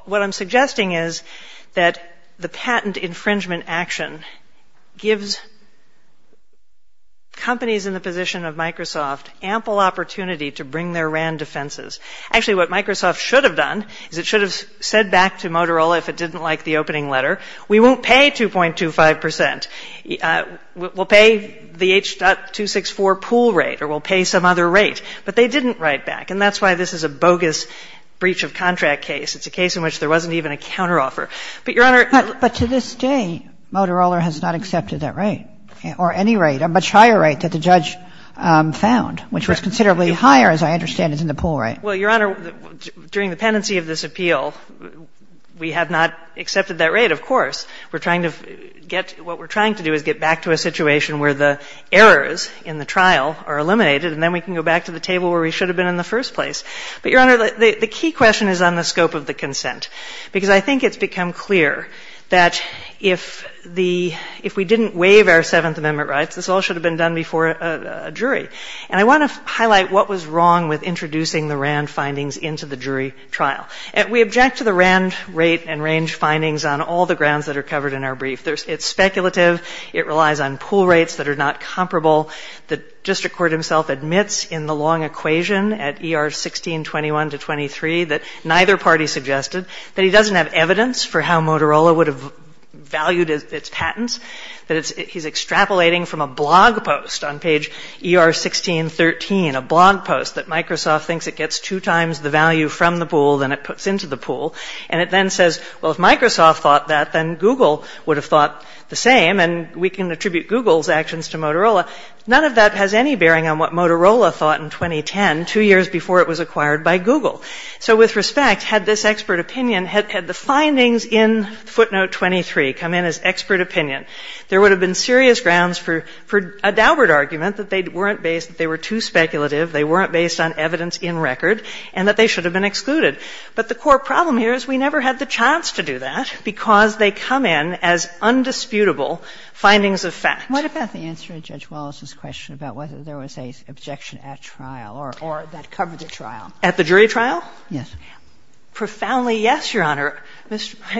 what I'm suggesting is that the patent infringement action gives companies in the position of Microsoft ample opportunity to bring their RAND defenses. Actually, what Microsoft should have done is it should have said back to Motorola if it didn't like the opening letter, we won't pay 2.25 percent. We'll pay the H.264 pool rate or we'll pay some other rate. But they didn't write back. And that's why this is a bogus breach of contract case. It's a case in which there wasn't even a counteroffer. But, Your Honor — But to this day, Motorola has not accepted that rate or any rate, a much higher rate, that the judge found, which was considerably higher, as I understand it, than the pool rate. Well, Your Honor, during the pendency of this appeal, we have not accepted that rate, of course. We're trying to get — what we're trying to do is get back to a situation where the errors in the trial are eliminated, and then we can go back to the table where we should have been in the first place. But, Your Honor, the key question is on the scope of the consent, because I think it's become clear that if the — if we didn't waive our Seventh Amendment rights, this all should have been done before a jury. And I want to highlight what was wrong with introducing the RAND findings into the jury trial. We object to the RAND rate and range findings on all the grounds that are covered in our brief. It's speculative. It relies on pool rates that are not comparable. The district court himself admits in the long equation at ER 1621 to 23 that neither party suggested, that he doesn't have evidence for how Motorola would have valued its patents, that he's extrapolating from a blog post on page ER 1613, a blog post that Microsoft thinks it gets two times the value from the pool than it puts into the pool. And it then says, well, if Microsoft thought that, then Google would have thought the same, and we can attribute Google's actions to Motorola. None of that has any bearing on what Motorola thought in 2010, two years before it was acquired by Google. So with respect, had this expert opinion — had the findings in footnote 23 come in as expert opinion, there would have been serious grounds for a Daubert argument that they weren't based — that they were too speculative, they weren't based on evidence in record, and that they should have been excluded. But the core problem here is we never had the chance to do that because they come in as undisputable findings of fact. Kagan. What about the answer to Judge Wallace's question about whether there was an objection at trial or that covered the trial? At the jury trial? Yes. Profoundly yes, Your Honor.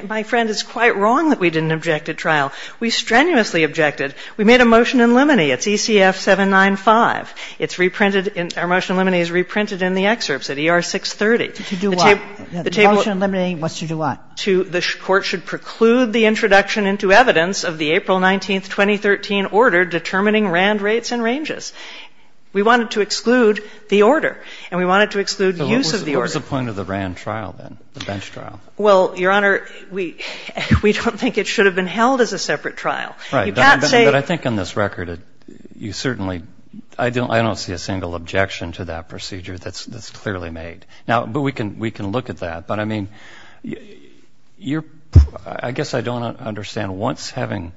My friend is quite wrong that we didn't object at trial. We strenuously objected. We made a motion in limine. It's ECF 795. It's reprinted in — our motion in limine is reprinted in the excerpts at ER 630. To do what? The motion in limine wants to do what? The Court should preclude the introduction into evidence of the April 19, 2013, order determining RAND rates and ranges. We wanted to exclude the order, and we wanted to exclude use of the order. What was the point of the RAND trial then, the bench trial? Well, Your Honor, we don't think it should have been held as a separate trial. You can't say — But I think on this record, you certainly — I don't see a single objection to that procedure that's clearly made. Now, but we can look at that. But, I mean, you're — I guess I don't understand what's having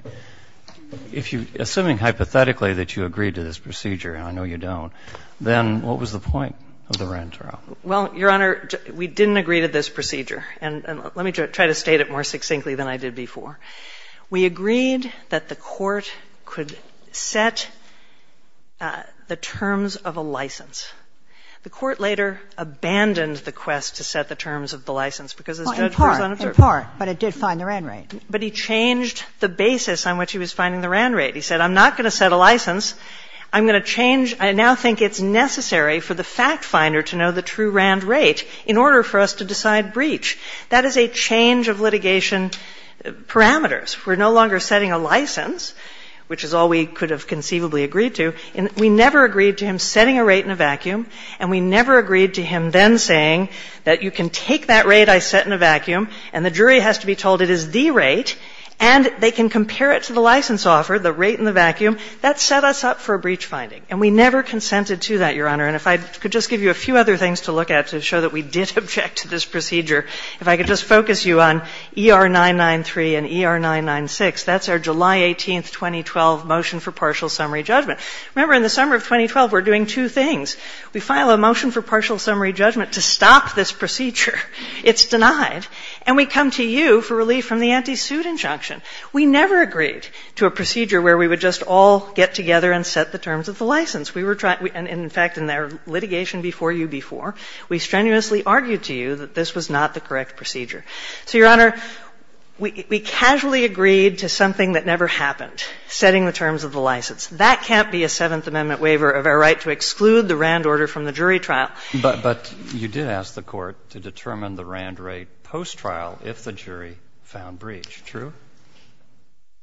— if you — assuming hypothetically that you agree to this procedure, and I know you don't, then what was the point of the RAND trial? Well, Your Honor, we didn't agree to this procedure. And let me try to state it more succinctly than I did before. We agreed that the Court could set the terms of a license. The Court later abandoned the quest to set the terms of the license because this judge was unobserved. Well, in part, in part. But it did find the RAND rate. But he changed the basis on which he was finding the RAND rate. He said, I'm not going to set a license. I'm going to change — I now think it's necessary for the fact finder to know the true RAND rate in order for us to decide breach. That is a change of litigation parameters. We're no longer setting a license, which is all we could have conceivably agreed to. We never agreed to him setting a rate in a vacuum. And we never agreed to him then saying that you can take that rate I set in a vacuum and the jury has to be told it is the rate and they can compare it to the license offer, the rate in the vacuum. That set us up for a breach finding. And we never consented to that, Your Honor. And if I could just give you a few other things to look at to show that we did object to this procedure, if I could just focus you on ER-993 and ER-996. That's our July 18, 2012, motion for partial summary judgment. Remember, in the summer of 2012, we're doing two things. We file a motion for partial summary judgment to stop this procedure. It's denied. And we come to you for relief from the anti-suit injunction. We never agreed to a procedure where we would just all get together and set the terms of the license. We were trying — and, in fact, in our litigation before you before, we strenuously argued to you that this was not the correct procedure. So, Your Honor, we casually agreed to something that never happened, setting the terms of the license. That can't be a Seventh Amendment waiver of our right to exclude the RAND order from the jury trial. But you did ask the Court to determine the RAND rate post-trial if the jury found breach. True.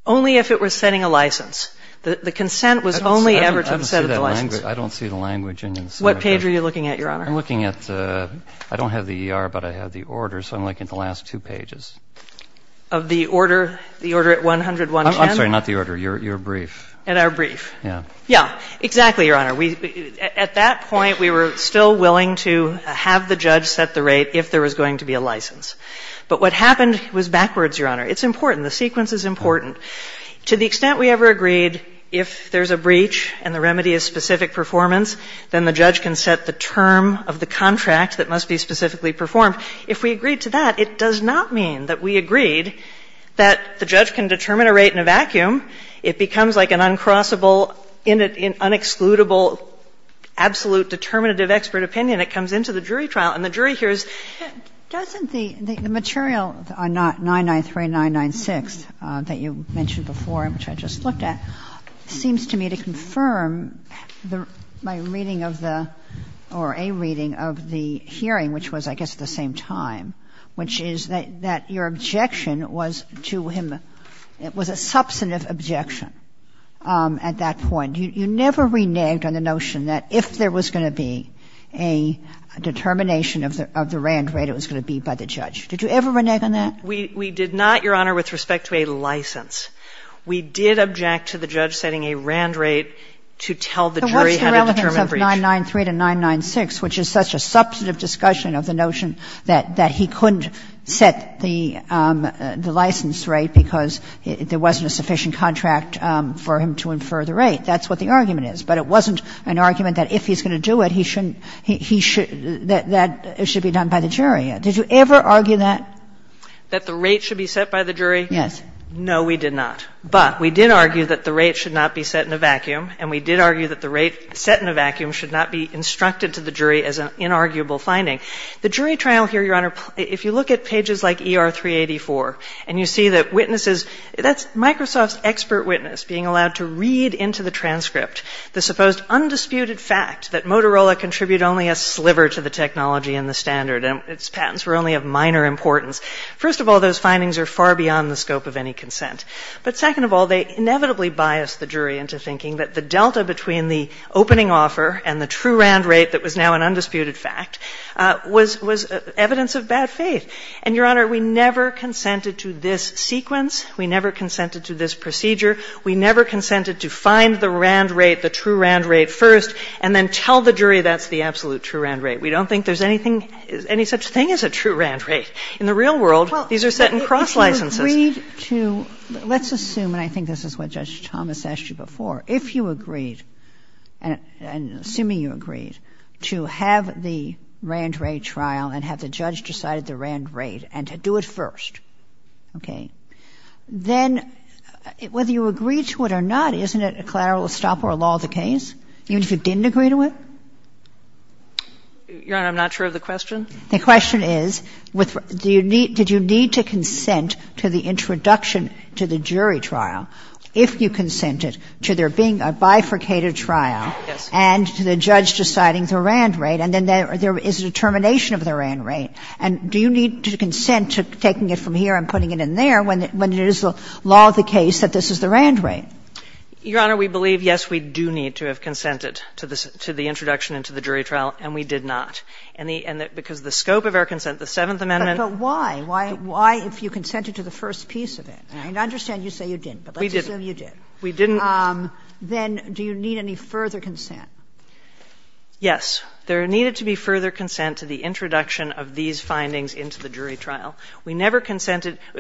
Only if it was setting a license. The consent was only ever to the set of the license. I don't see that language. I don't see the language in this. What page are you looking at, Your Honor? I'm looking at the — I don't have the ER, but I have the order. So I'm looking at the last two pages. Of the order, the order at 10110? I'm sorry, not the order. Your brief. In our brief. Yeah. Yeah. Exactly, Your Honor. We — at that point, we were still willing to have the judge set the rate if there was going to be a license. But what happened was backwards, Your Honor. It's important. The sequence is important. To the extent we ever agreed if there's a breach and the remedy is specific performance, then the judge can set the term of the contract that must be specifically performed. If we agreed to that, it does not mean that we agreed that the judge can determine a rate in a vacuum. It becomes like an uncrossable, unexcludable, absolute determinative expert opinion. It comes into the jury trial. And the jury hears — Doesn't the material on 993996 that you mentioned before, which I just looked at, seems to me to confirm my reading of the — or a reading of the hearing, which was, I guess, the same time, which is that your objection was to him — it was a substantive objection at that point. You never reneged on the notion that if there was going to be a determination of the RAND rate, it was going to be by the judge. Did you ever renege on that? We did not, Your Honor, with respect to a license. We did object to the judge setting a RAND rate to tell the jury how to determine But what's the relevance of 993996, which is such a substantive discussion of the notion that he couldn't set the license rate because there wasn't a sufficient contract for him to infer the rate? That's what the argument is. But it wasn't an argument that if he's going to do it, he shouldn't — that it should be done by the jury. Did you ever argue that? That the rate should be set by the jury? Yes. And no, we did not. But we did argue that the rate should not be set in a vacuum, and we did argue that the rate set in a vacuum should not be instructed to the jury as an inarguable The jury trial here, Your Honor, if you look at pages like ER 384, and you see that witnesses — that's Microsoft's expert witness being allowed to read into the transcript the supposed undisputed fact that Motorola contributed only a sliver to the technology and the standard, and its patents were only of minor importance. First of all, those findings are far beyond the scope of any consent. But second of all, they inevitably bias the jury into thinking that the delta between the opening offer and the true RAND rate that was now an undisputed fact was evidence of bad faith. And, Your Honor, we never consented to this sequence. We never consented to this procedure. We never consented to find the RAND rate, the true RAND rate first, and then tell the jury that's the absolute true RAND rate. We don't think there's anything — any such thing as a true RAND rate. In the real world, these are set in cross licenses. Kagan. Well, if you agreed to — let's assume, and I think this is what Judge Thomas asked you before, if you agreed, and assuming you agreed, to have the RAND rate trial and have the judge decide the RAND rate and to do it first, okay, then whether you agreed to it or not, isn't it a collateral stop or a law of the case, even if you didn't agree to it? Your Honor, I'm not sure of the question. The question is, with — do you need — did you need to consent to the introduction to the jury trial, if you consented, to there being a bifurcated trial and to the judge deciding the RAND rate, and then there is a determination of the RAND rate? And do you need to consent to taking it from here and putting it in there when it is the law of the case that this is the RAND rate? Your Honor, we believe, yes, we do need to have consented to the introduction and to the jury trial, and we did not. And the — because the scope of our consent, the Seventh Amendment — But why? Why if you consented to the first piece of it? I understand you say you didn't, but let's assume you did. We didn't. We didn't. Then do you need any further consent? Yes. There needed to be further consent to the introduction of these findings into the jury trial. We never consented —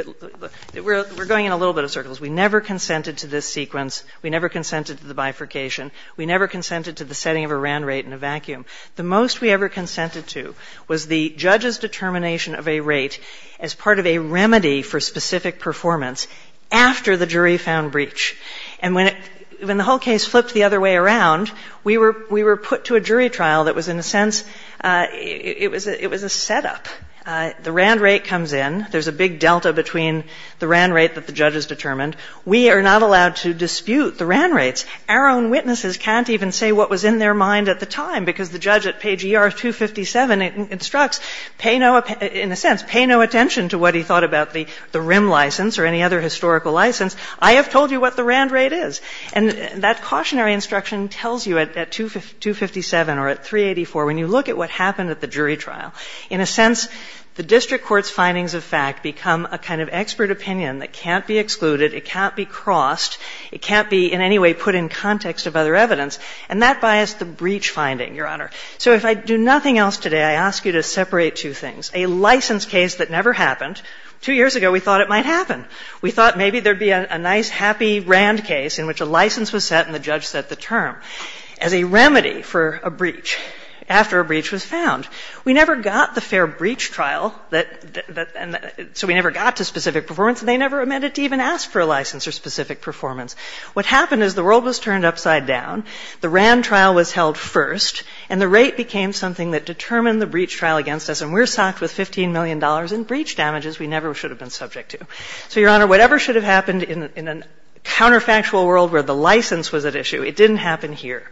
we're going in a little bit of circles. We never consented to this sequence. We never consented to the bifurcation. We never consented to the setting of a RAND rate in a vacuum. The most we ever consented to was the judge's determination of a rate as part of a remedy for specific performance after the jury found breach. And when the whole case flipped the other way around, we were put to a jury trial that was, in a sense, it was a setup. The RAND rate comes in. There's a big delta between the RAND rate that the judges determined. We are not allowed to dispute the RAND rates. Our own witnesses can't even say what was in their mind at the time, because the judge at page ER-257 instructs, pay no — in a sense, pay no attention to what he thought about the RIM license or any other historical license. I have told you what the RAND rate is. And that cautionary instruction tells you at 257 or at 384, when you look at what happened at the jury trial, in a sense, the district court's findings of fact become a kind of expert opinion that can't be excluded, it can't be crossed, it can't be in context of other evidence, and that bias, the breach finding, Your Honor. So if I do nothing else today, I ask you to separate two things. A license case that never happened. Two years ago, we thought it might happen. We thought maybe there would be a nice, happy RAND case in which a license was set and the judge set the term as a remedy for a breach after a breach was found. We never got the fair breach trial that — so we never got to specific performance and they never amended to even ask for a license or specific performance. What happened is the world was turned upside down, the RAND trial was held first, and the rate became something that determined the breach trial against us. And we're socked with $15 million in breach damages we never should have been subject to. So, Your Honor, whatever should have happened in a counterfactual world where the license was at issue, it didn't happen here.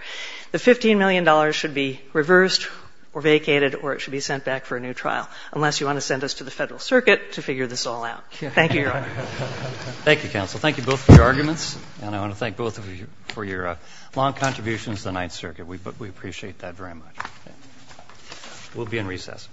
The $15 million should be reversed or vacated or it should be sent back for a new trial, unless you want to send us to the Federal Circuit to figure this all out. Thank you, Your Honor. Thank you, counsel. Thank you both for your arguments. And I want to thank both of you for your long contributions to the Ninth Circuit. We appreciate that very much. We'll be in recess. Thank you.